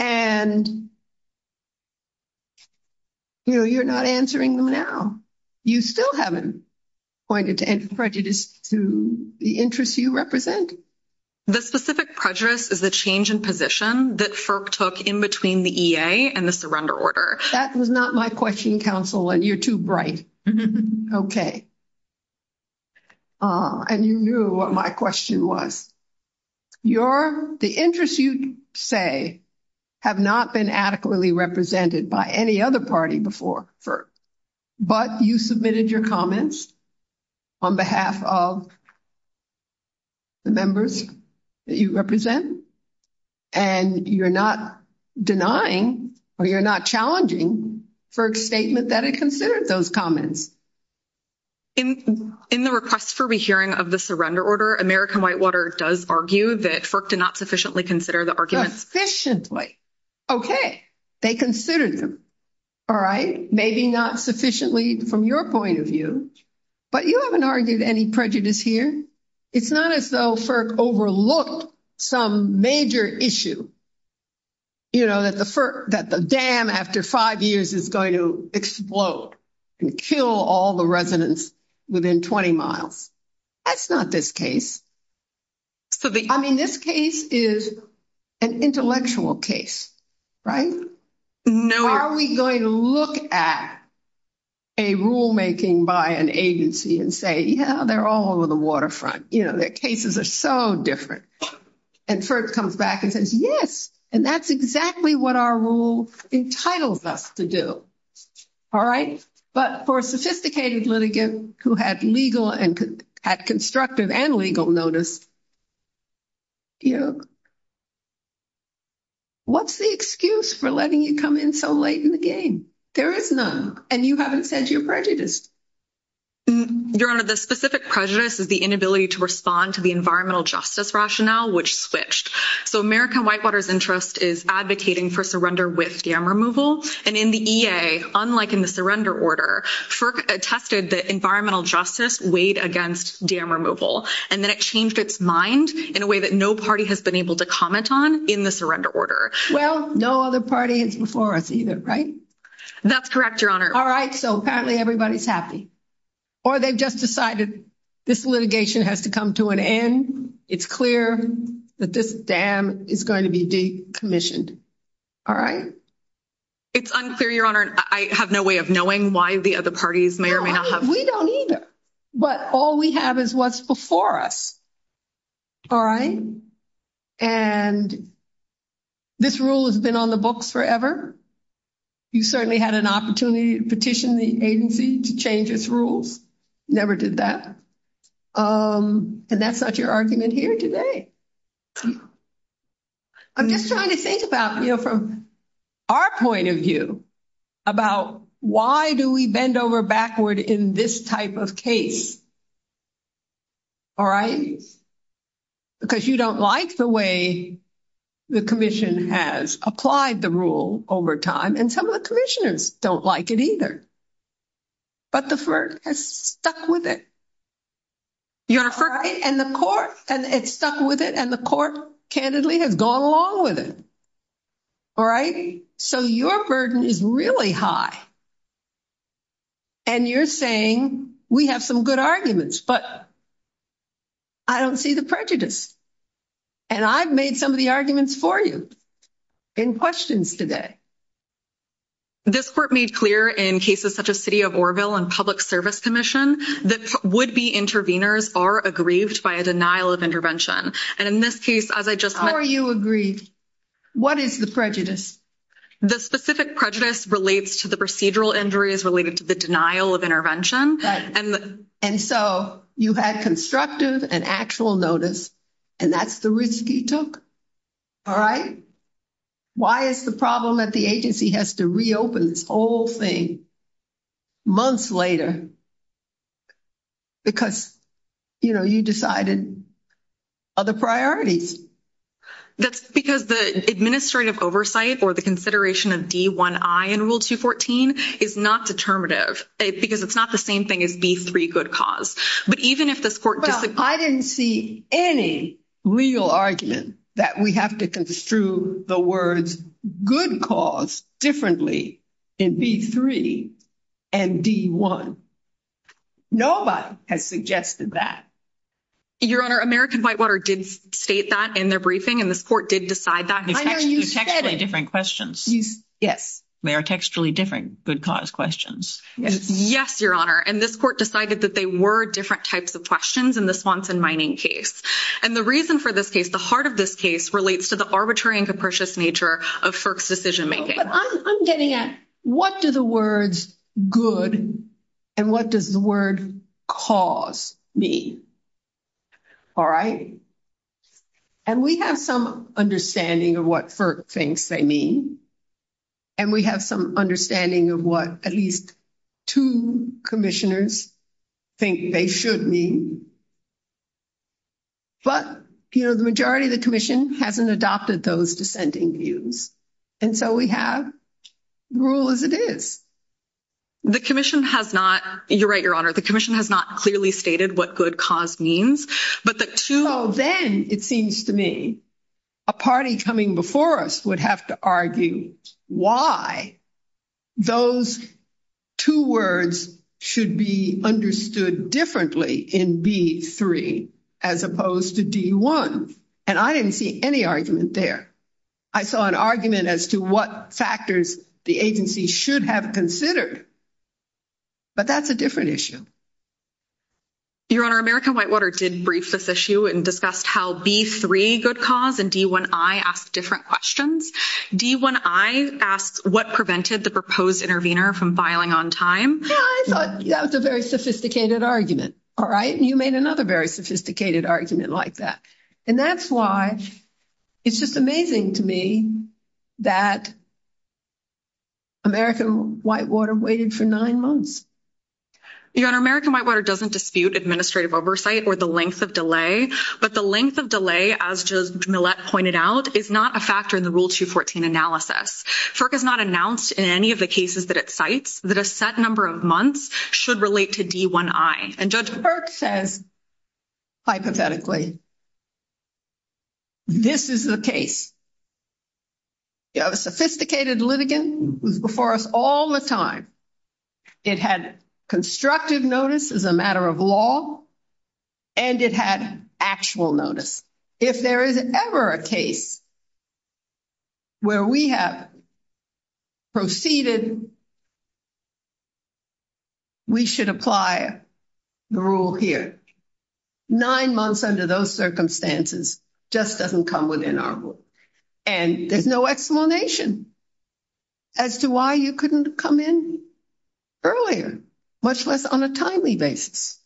And, you know, you're not answering them now. You still haven't pointed to any prejudice to the interests you represent? The specific prejudice is a change in position that FERP took in between the EA and the surrender order. That was not my question, counsel, and you're too bright. Okay. And you knew what my question was. The interests you say have not been adequately represented by any other party before FERP. But you submitted your comments on behalf of the members that you represent, and you're not denying or you're not challenging FERP's statement that it considered those comments. In the request for rehearing of the surrender order, American Whitewater does argue that FERP did not sufficiently consider the arguments. Sufficiently. Okay. They considered them, all right? Maybe not sufficiently from your point of view, but you haven't argued any prejudice here. It's not as though FERP overlooked some major issue, you know, that the dam after five years is going to explode and kill all the residents within 20 miles. That's not this case. I mean, this case is an intellectual case, right? Now, are we going to look at a rulemaking by an agency and say, yeah, they're all over the waterfront. You know, their cases are so different. And FERP comes back and says, yes, and that's exactly what our rule entitles us to do. All right? But for a sophisticated litigant who had legal and had constructive and legal notice, you know, what's the excuse for letting you come in so late in the game? There is none. And you haven't said your prejudice. Your Honor, the specific prejudice is the inability to respond to the environmental justice rationale, which switched. So American Whitewater's interest is advocating for surrender with dam removal. And in the EA, unlike in the surrender order, FERP attested that environmental justice weighed against dam removal. And then it changed its mind in a way that no party has been able to comment on in the surrender order. Well, no other party is before us either, right? That's correct, Your Honor. All right. So apparently everybody's happy. Or they just decided this litigation has to come to an end. It's clear that this dam is going to be decommissioned. All right? It's unclear, Your Honor. I have no way of knowing why the other parties may or may not have. We don't either. But all we have is what's before us. All right? And this rule has been on the books forever. You certainly had an opportunity to petition the agency to change its rules. Never did that. And that's not your argument here today. I'm just trying to think about, you know, from our point of view about why do we bend over backward in this type of case? All right? Because you don't like the way the commission has applied the rule over time. And some of the commissioners don't like it either. But the court has stuck with it. You're right. And the court, and it's stuck with it. And the court candidly has gone along with it. All right? So your burden is really high. And you're saying we have some good arguments, but I don't see the prejudice. And I've made some of the arguments for you in questions today. This court made clear in cases such as City of Oroville and Public Service Commission that would-be interveners are aggrieved by a denial of intervention. And in this case, as I just- Who are you aggrieved? What is the prejudice? The specific prejudice relates to the procedural injuries related to the denial of intervention. And so you've had constructive and actual notice. And that's the risk you took. All right? Why is the problem that the agency has to reopen this whole thing months later? Because, you know, you decided other priorities. That's because the administrative oversight or the consideration of D1I in Rule 214 is not determinative. Because it's not the same thing as D3 good cause. But even if this court doesn't- I didn't see any legal argument that we have to construe the words good cause differently in D3 and D1. Nobody has suggested that. Your Honor, American Whitewater did state that in their briefing. And this court did decide that. The texts are different questions. Yes. They are textually different good cause questions. Yes, Your Honor. And this court decided that they were different types of questions in the Swanson mining case. And the reason for this case, the heart of this case, relates to the arbitrary and capricious nature of FERC's decision-making. But I'm getting at, what do the words good and what does the word cause mean? All right. And we have some understanding of what FERC thinks they mean. And we have some understanding of what at least two commissioners think they should mean. But, you know, the majority of the commission hasn't adopted those dissenting views. And so we have the rule as it is. The commission has not- you're right, Your Honor. The commission has not clearly stated what good cause means. But the two- So then it seems to me a party coming before us would have to argue why those two words should be understood differently in B3 as opposed to D1. And I didn't see any argument there. I saw an argument as to what factors the agency should have considered. But that's a different issue. Your Honor, American Whitewater did brief this issue and discussed how B3, good cause, and D1I ask different questions. D1I asks what prevented the proposed intervener from filing on time? Yeah, I thought that was a very sophisticated argument. All right. You made another very sophisticated argument like that. And that's why it's just amazing to me that American Whitewater waited for nine months. Your Honor, American Whitewater doesn't dispute administrative oversight or the length of delay. But the length of delay, as Judge Millett pointed out, is not a factor in the Rule 214 analysis. FERC has not announced in any of the cases that it cites that a set number of months should relate to D1I. And Judge FERC says, hypothetically, this is the case. You have a sophisticated litigant who's before us all the time. It had constructive notice as a matter of law. And it had actual notice. If there is ever a case where we have proceeded, we should apply the rule here. Nine months under those circumstances just doesn't come within our rule. And there's no explanation as to why you couldn't come in. Earlier, much less on a timely basis.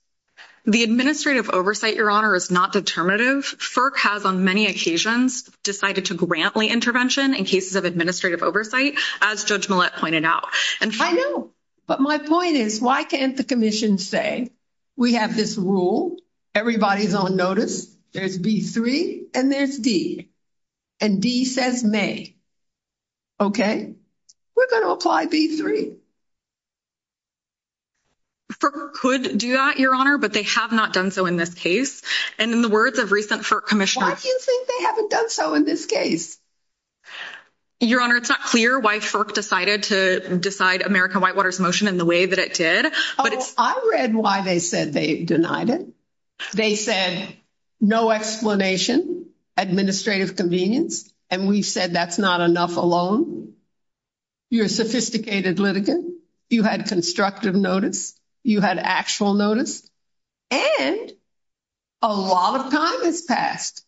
The administrative oversight, Your Honor, is not determinative. FERC has, on many occasions, decided to grant the intervention in cases of administrative oversight, as Judge Millett pointed out. I know. But my point is, why can't the Commission say, we have this rule, everybody's on notice, there's D3 and there's D. And D says may. Okay, we're going to apply D3. FERC could do that, Your Honor, but they have not done so in this case. And in the words of recent FERC Commissioners... Why do you think they haven't done so in this case? Your Honor, it's not clear why FERC decided to decide American Whitewater's motion in the way that it did. Oh, I read why they said they denied it. They said, no explanation, administrative convenience. And we said, that's not enough alone. You're a sophisticated litigant. You had constructive notice. You had actual notice. And a lot of time has passed.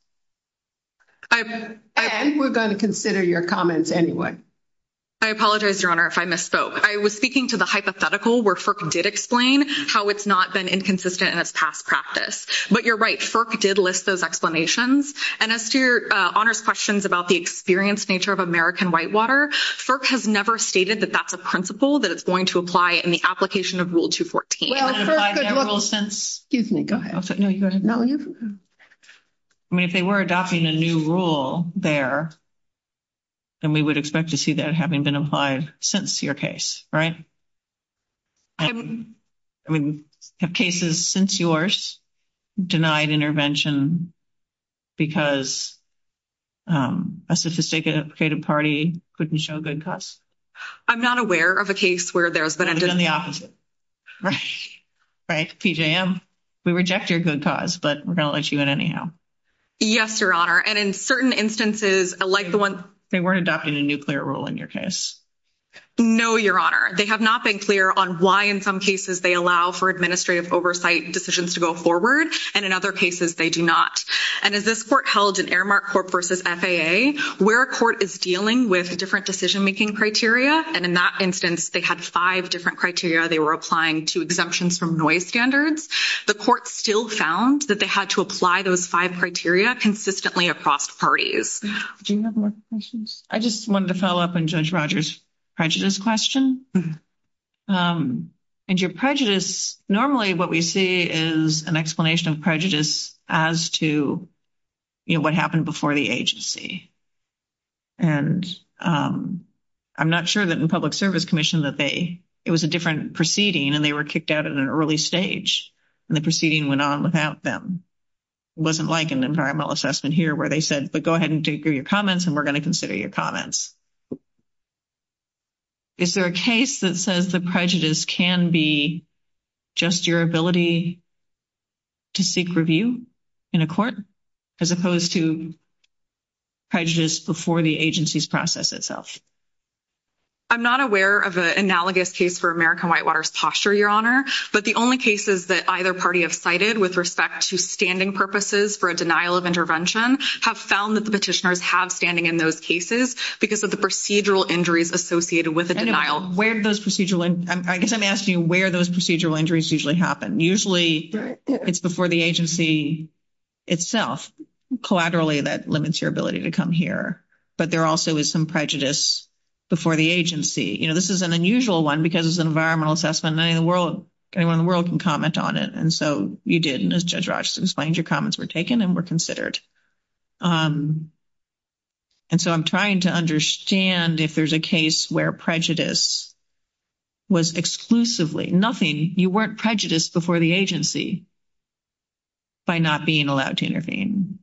And we're going to consider your comments anyway. I apologize, Your Honor, if I misspoke. I was speaking to the hypothetical where FERC did explain how it's not been inconsistent in its past practice. But you're right, FERC did list those explanations. And as to Your Honor's questions about the experienced nature of American Whitewater, FERC has never stated that that's a principle that it's going to apply in the application of Rule 214. Excuse me, go ahead. I mean, if they were adopting a new rule there, then we would expect to see that having been applied since your case, right? I mean, have cases since yours denied intervention because a sophisticated, creative party couldn't show good cause? I'm not aware of a case where there's been a dis- It's been the opposite. Right, PJM. We reject your good cause, but we're going to let you in anyhow. Yes, Your Honor. And in certain instances, like the one- They weren't adopting a new clear rule in your case. No, Your Honor. They have not been clear on why in some cases they allow for administrative oversight decisions to go forward. And in other cases, they do not. And as this court held in Aramark Court versus FAA, where a court is dealing with a different decision-making criteria, and in that instance, they had five different criteria they were applying to exemptions from noise standards, the court still found that they had to apply those five criteria consistently across parties. Do you have more questions? I just wanted to follow up on Judge Rogers' prejudice question. And your prejudice- Normally, what we see is an explanation of prejudice as to, you know, what happened before the agency. And I'm not sure that in Public Service Commission that they- It was a different proceeding, and they were kicked out at an early stage, and the proceeding went on without them. It wasn't like an environmental assessment here where they said, but go ahead and do your comments, and we're going to consider your comments. Is there a case that says the prejudice can be just your ability to seek review in a court, as opposed to prejudice before the agency's process itself? I'm not aware of an analogous case for American Whitewater's posture, Your Honor, but the only cases that either party have cited with respect to standing purposes for a denial of intervention have found that the petitioners have standing in those cases because of the procedural injuries associated with the denial. And where do those procedural- I guess I'm asking where those procedural injuries usually happen. Usually, it's before the agency itself. Collaterally, that limits your ability to come here. But there also is some prejudice before the agency. You know, this is an unusual one because it's an environmental assessment, and not everyone in the world can comment on it. And so you didn't, as Judge Rogers explained. Your comments were taken and were considered. And so I'm trying to understand if there's a case where prejudice was exclusively nothing. You weren't prejudiced before the agency by not being allowed to intervene.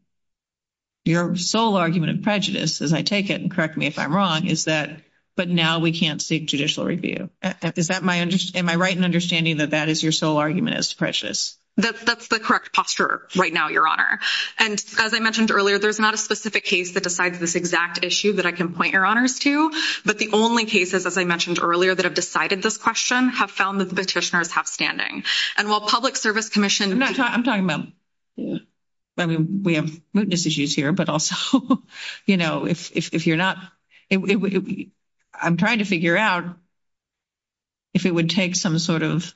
Your sole argument of prejudice, as I take it, and correct me if I'm wrong, is that, but now we can't seek judicial review. Am I right in understanding that that is your sole argument as prejudice? That's the correct posture right now, Your Honor. And as I mentioned earlier, there's not a specific case that decides this exact issue that I can point Your Honors to. But the only cases, as I mentioned earlier, that have decided this question have found that the petitioners have standing. And while Public Service Commission- No, I'm talking about- I mean, we have mootness issues here, but also, you know, if you're not- I'm trying to figure out if it would take some sort of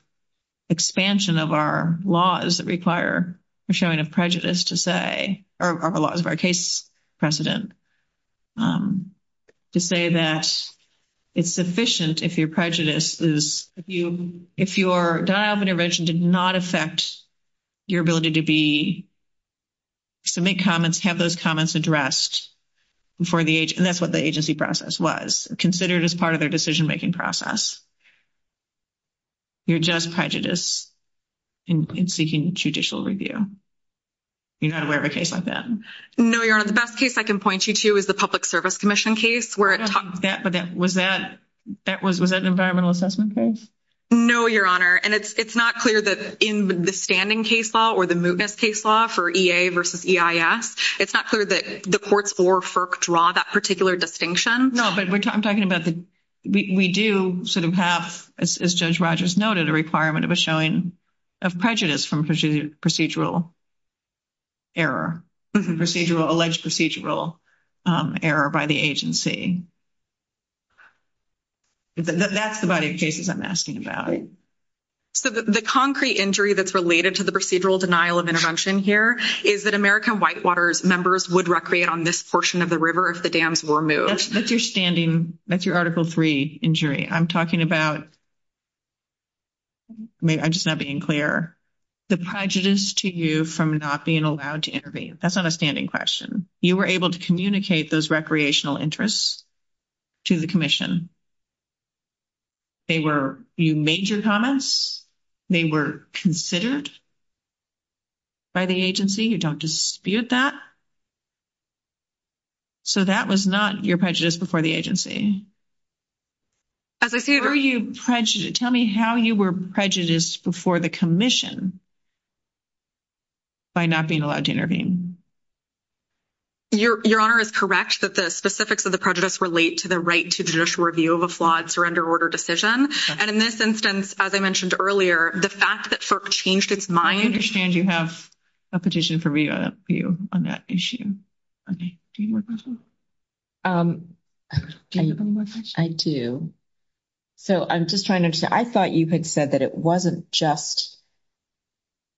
expansion of our laws or showing a prejudice to say, or the laws of our case precedent, to say that it's sufficient if your prejudice is- if your intervention did not affect your ability to be- submit comments, have those comments addressed and that's what the agency process was, considered as part of their decision-making process. You're just prejudiced in seeking judicial review. You don't have a case like that. No, Your Honor. The best case I can point you to is the Public Service Commission case, where it- That, but that- was that- that was- was that an environmental assessment case? No, Your Honor. And it's not clear that in the standing case law or the mootness case law for EA versus EIS, it's not clear that the courts or FERC draw that particular distinction. No, but we're talking about the- we do sort of have, as Judge Rogers noted, a requirement of a showing of prejudice from procedural error, alleged procedural error by the agency. That's the body of cases I'm asking about. So the concrete injury that's related to the procedural denial of intervention here is that American Whitewater members would recreate on this portion of the river if the dams were moot. That's your standing- that's your Article III injury. I'm talking about- I'm just not being clear. The prejudice to you from not being allowed to intervene. That's not a standing question. You were able to communicate those recreational interests to the commission. They were- you made your comments. They were considered by the agency. You don't dispute that. So that was not your prejudice before the agency. Tell me how you were prejudiced before the commission by not being allowed to intervene. Your Honor is correct that the specifics of the prejudice relate to the right to judicial review of a flawed surrender order decision. And in this instance, as I mentioned earlier, the fact that FERC changed its mind- I understand you have a petition for review on that issue. Okay. I do. So I'm just trying to understand. I thought you had said that it wasn't just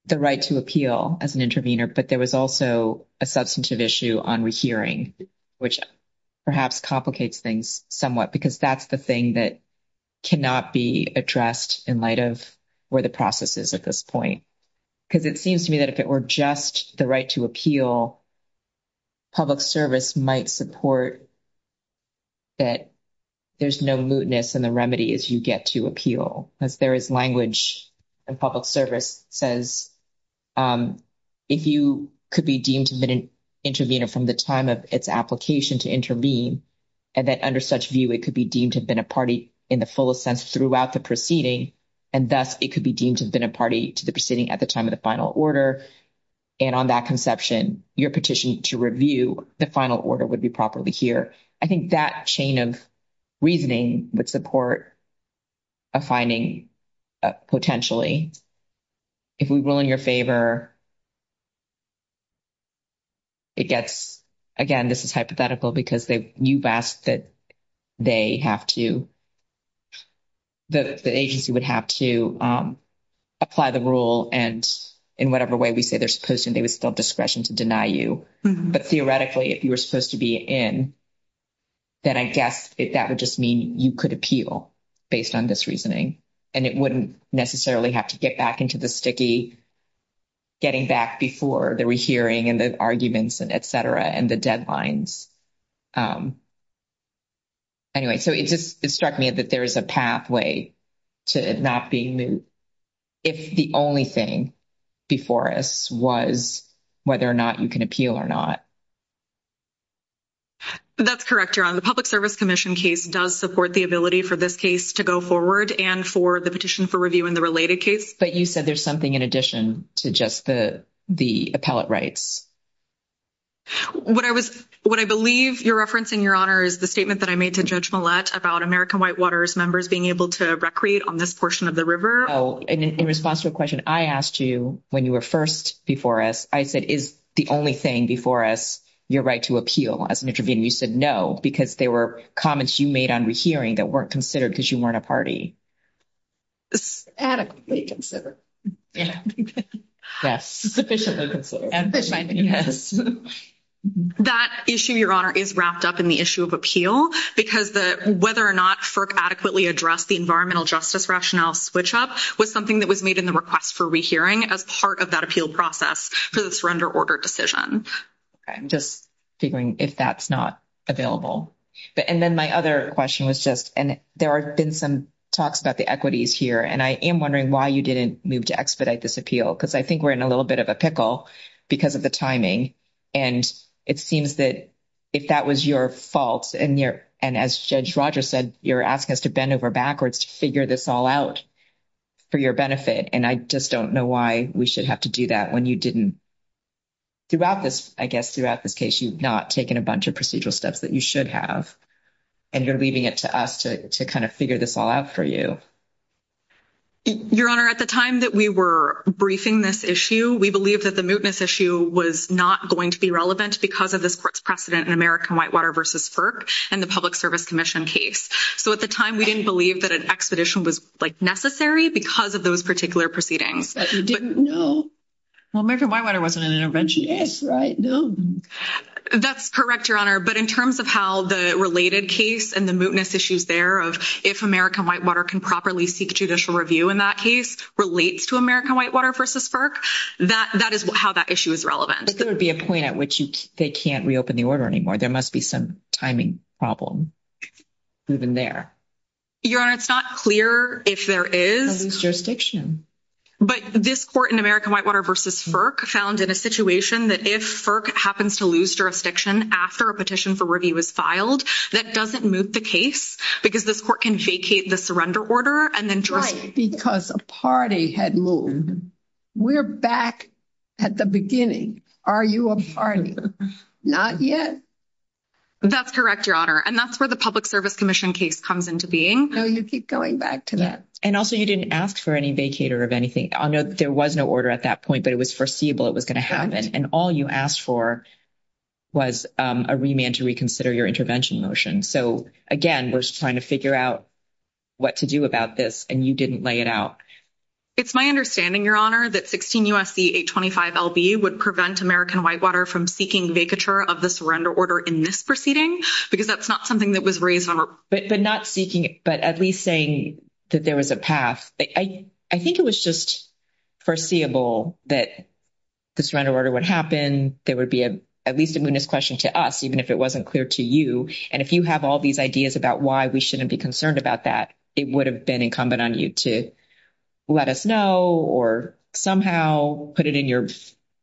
the right to appeal as an intervener, but there was also a substantive issue on rehearing, which perhaps complicates things somewhat because that's the thing that cannot be addressed in light of where the process is at this point. Because it seems to me that if it were just the right to appeal, public service might support that there's no mootness in the remedy as you get to appeal. As there is language in public service that says, if you could be deemed to have been an intervener from the time of its application to intervene, and that under such view, it could be deemed to have been a party in the full sense throughout the proceeding, and thus it could be deemed to have been a party to the proceeding at the time of the final order. And on that conception, your petition to review the final order would be properly heared. I think that chain of reasoning would support a finding potentially. If we rule in your favor, I guess, again, this is hypothetical because you've asked that they have to, that the agency would have to apply the rule and in whatever way we say they're supposed to, they would still have discretion to deny you. But theoretically, if you were supposed to be in, then I guess that would just mean you could appeal based on this reasoning. And it wouldn't necessarily have to get back into the sticky getting back before the rehearing and the arguments and et cetera, and the deadlines. Anyway, so it just struck me that there is a pathway to not being, if the only thing before us was whether or not you can appeal or not. MARY JO GIOVACCHINI. That's correct, Your Honor. The Public Service Commission case does support the ability for this case to go forward and for the petition for review in the related case. But you said there's something in addition to just the appellate rights. MARY JO GIOVACCHINI. What I was, what I believe, Your Reference and Your Honor, is the statement that I made to Judge Millett about American Whitewater's members being able to recreate on this portion of the river. In response to a question I asked you when you were first before us, I said, is the only thing before us your right to appeal? As an interviewee, you said no, because there were comments you made on rehearing that weren't considered because you weren't a party. MARY JO GIOVACCHINI. Adequately considered. MARY JO GIOVACCHINI. Yes. Sufficiently considered. That issue, Your Honor, is wrapped up in the issue of appeal, because whether or not FERC adequately addressed the environmental justice rationale switch-up was something that was made in the request for rehearing as part of that appeal process because it's an under-order decision. MARY JO GIOVACCHINI. I'm just figuring if that's not available. And then my other question was just, and there have been some talks about the equities here, and I am wondering why you didn't move to expedite this appeal, because I think we're in a little bit of a pickle because of the timing. And it seems that if that was your fault, and as Judge Rogers said, you're asking us to bend over backwards to figure this all out for your benefit, and I just don't know why we should have to do that when you didn't, throughout this, I guess, throughout this case, you've not taken a bunch of procedural steps that you should have. And you're leaving it to us to kind of figure this all out for you. MARY JO GIOVACCHINI. Your Honor, at the time that we were briefing this issue, we believed that the mootness issue was not going to be relevant because of this court's precedent in American Whitewater v. FERC and the Public Service Commission case. So, at the time, we didn't believe that an expedition was, like, necessary because of those particular proceedings. But you didn't know. MARY JO GIOVACCHINI. Well, American Whitewater wasn't an intervention. Yes, right. No. That's correct, Your Honor. But in terms of how the related case and the mootness issues there of if American Whitewater can properly seek judicial review in that case relates to American Whitewater v. FERC, that is how that issue is relevant. There would be a point at which they can't reopen the order anymore. There must be some timing problem moving there. MARY JO GIOVACCHINI. Your Honor, it's not clear if there is. There's jurisdiction. But this court in American Whitewater v. FERC found in a situation that if FERC happens to lose jurisdiction after a petition for review is filed, that doesn't moot the case because this court can vacate the surrender order and then try- Because a party had moved. We're back at the beginning. Are you a party? Not yet. That's correct, Your Honor. And that's where the Public Service Commission case comes into being. So, you keep going back to that. And also, you didn't ask for any vacater of anything. I know there was no order at that point, but it was foreseeable it was going to happen. And all you asked for was a remand to reconsider your intervention motion. So, again, we're just trying to figure out what to do about this, and you didn't lay it out. It's my understanding, Your Honor, that 16 U.S.C. 825 L.B. would prevent American Whitewater from seeking vacature of the surrender order in this proceeding because that's not something that was raised- But not seeking- But at least saying that there was a path. I think it was just foreseeable that the surrender order would happen. There would be at least a mootness question to us, even if it wasn't clear to you. And if you have all these ideas about why we shouldn't be concerned about that, it would have been incumbent on you to let us know or somehow put it in your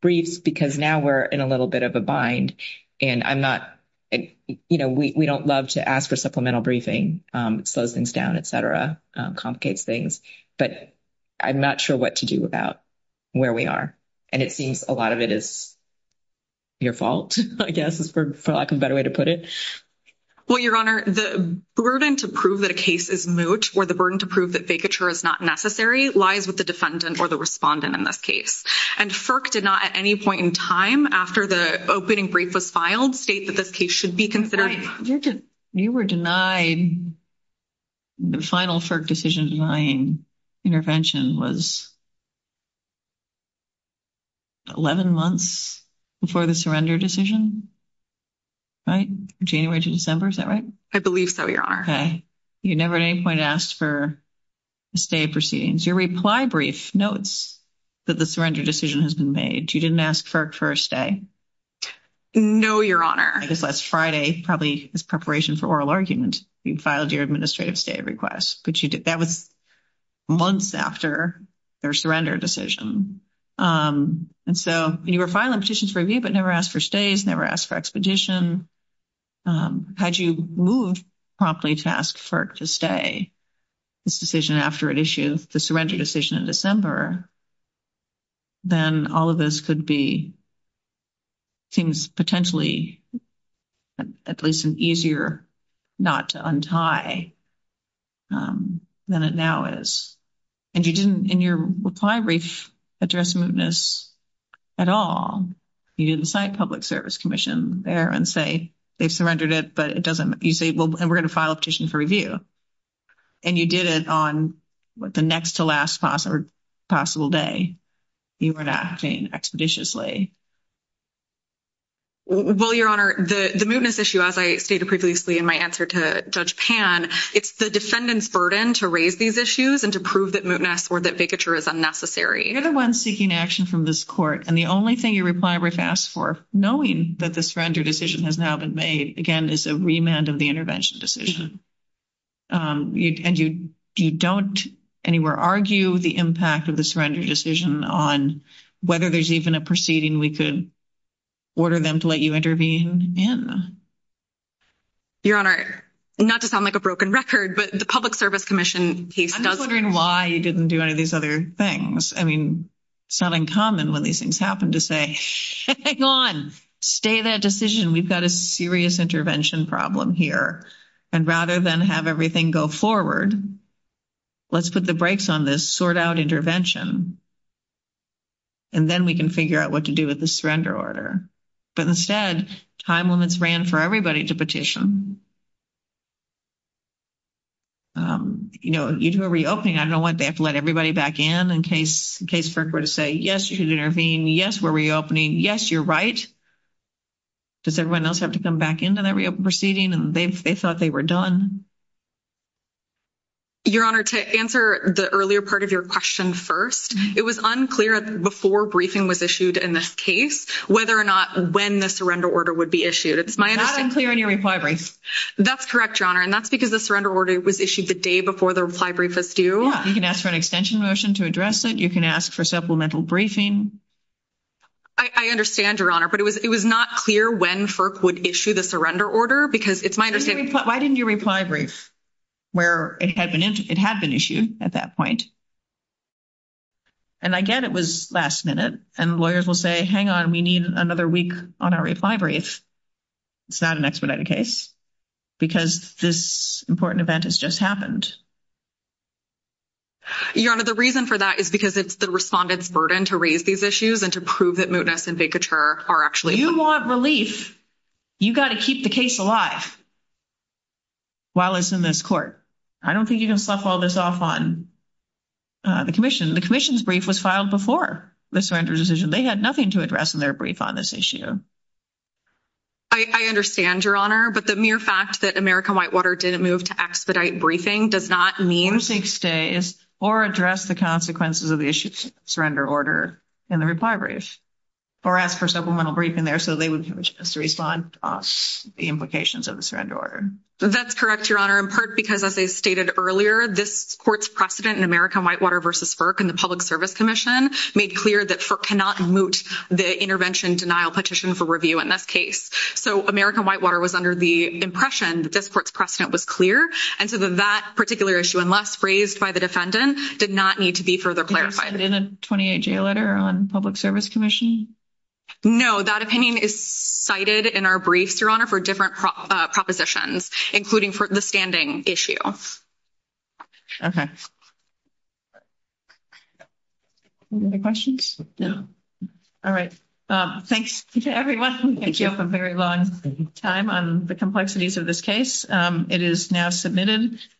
briefs, because now we're in a little bit of a bind. And I'm not- You know, we don't love to ask for supplemental briefing. Slows things down, et cetera. Complicates things. But I'm not sure what to do about where we are. And it seems a lot of it is your fault, I guess, is probably a better way to put it. Well, Your Honor, the burden to prove that a case is moot or the burden to prove that vacature is not necessary lies with the defendant or the respondent in this case. And FERC did not, at any point in time after the opening brief was filed, state that this case should be considered- You were denied the final FERC decision denying intervention was 11 months before the surrender decision, right? January to December, is that right? I believe so, Your Honor. Okay. You never at any point asked for a stay proceedings. Your reply brief notes that the surrender decision has been made. You didn't ask FERC for a stay. No, Your Honor. Unless Friday, probably as preparation for oral argument, you filed your administrative stay request, which you did that was months after their surrender decision. And so you were filing petitions for review, but never asked for stays, never asked for expedition. Had you moved promptly to ask FERC to stay this decision after it issued the surrender decision in December, then all of this could be things potentially at least an easier not to untie than it now is. And you didn't, in your reply brief, address mootness at all. You didn't cite public service commission there and say, they surrendered it, but it doesn't- You say, well, and we're going to file a petition for review. And you did it on the next to last possible day. You weren't asking expeditiously. Well, Your Honor, the mootness issue, as I stated previously in my answer to Judge Pan, it's the defendant's burden to raise these issues and to prove that mootness or that bigotry is unnecessary. You're the one seeking action from this court. And the only thing your reply brief asks for, knowing that the surrender decision has now been made, again, is a remand of the intervention decision. And you don't anywhere argue the impact of the surrender decision on whether there's even a proceeding we could order them to let you intervene in. Your Honor, not to sound like a broken record, but the public service commission case- I was wondering why you didn't do any of these other things. I mean, it's not uncommon when these things happen to say, hang on, stay that decision. We've got a serious intervention problem here. And rather than have everything go forward, let's put the brakes on this, sort out intervention. And then we can figure out what to do with the surrender order. But instead, time limits ran for everybody to petition. You know, you do a reopening, I don't want to have to let everybody back in in case the case clerk were to say, yes, you should intervene. Yes, we're reopening. Yes, you're right. Does everyone else have to come back into that reopening proceeding? And they thought they were done. Your Honor, to answer the earlier part of your question first, it was unclear before briefing was issued in this case, whether or not when the surrender order would be issued. It's my understanding- It's not unclear when you reply briefed. That's correct, Your Honor. And that's because the surrender order was issued the day before the reply brief was due. Yeah. You can ask for an extension motion to address it. You can ask for supplemental briefing. I understand, Your Honor. But it was not clear when FERC would issue the surrender order because it's my understanding- Why didn't you reply brief where it had been issued at that point? And I get it was last minute. And lawyers will say, hang on, we need another week on our reply brief. It's not an expedited case because this important event has just happened. Your Honor, the reason for that is because it's the respondent's burden to raise these issues and to prove that mootness and vacatur are actually- You want relief. You've got to keep the case alive while it's in this court. I don't think you can fluff all this off on the commission. The commission's brief was filed before the surrender decision. They had nothing to address in their brief on this issue. I understand, Your Honor. But the mere fact that American Whitewater didn't move to expedite briefing does not mean- For six days or address the consequences of the issued surrender order in the reply brief or ask for supplemental briefing there so they would just respond off the implications of the surrender order. That's correct, Your Honor, in part because, as I stated earlier, this court's precedent in American Whitewater versus FERC and the Public Service Commission made clear that FERC cannot moot the intervention denial petition for review in this case. So American Whitewater was under the impression that this court's precedent was clear and so that particular issue, unless raised by the defendant, did not need to be further clarified. Isn't a 28-J letter on Public Service Commission? No, that opinion is cited in our brief, Your Honor, for different propositions, including for the standing issue. Okay. Any other questions? No. All right. Thanks to everyone. Thank you for a very long time on the complexities of this case. It is now submitted.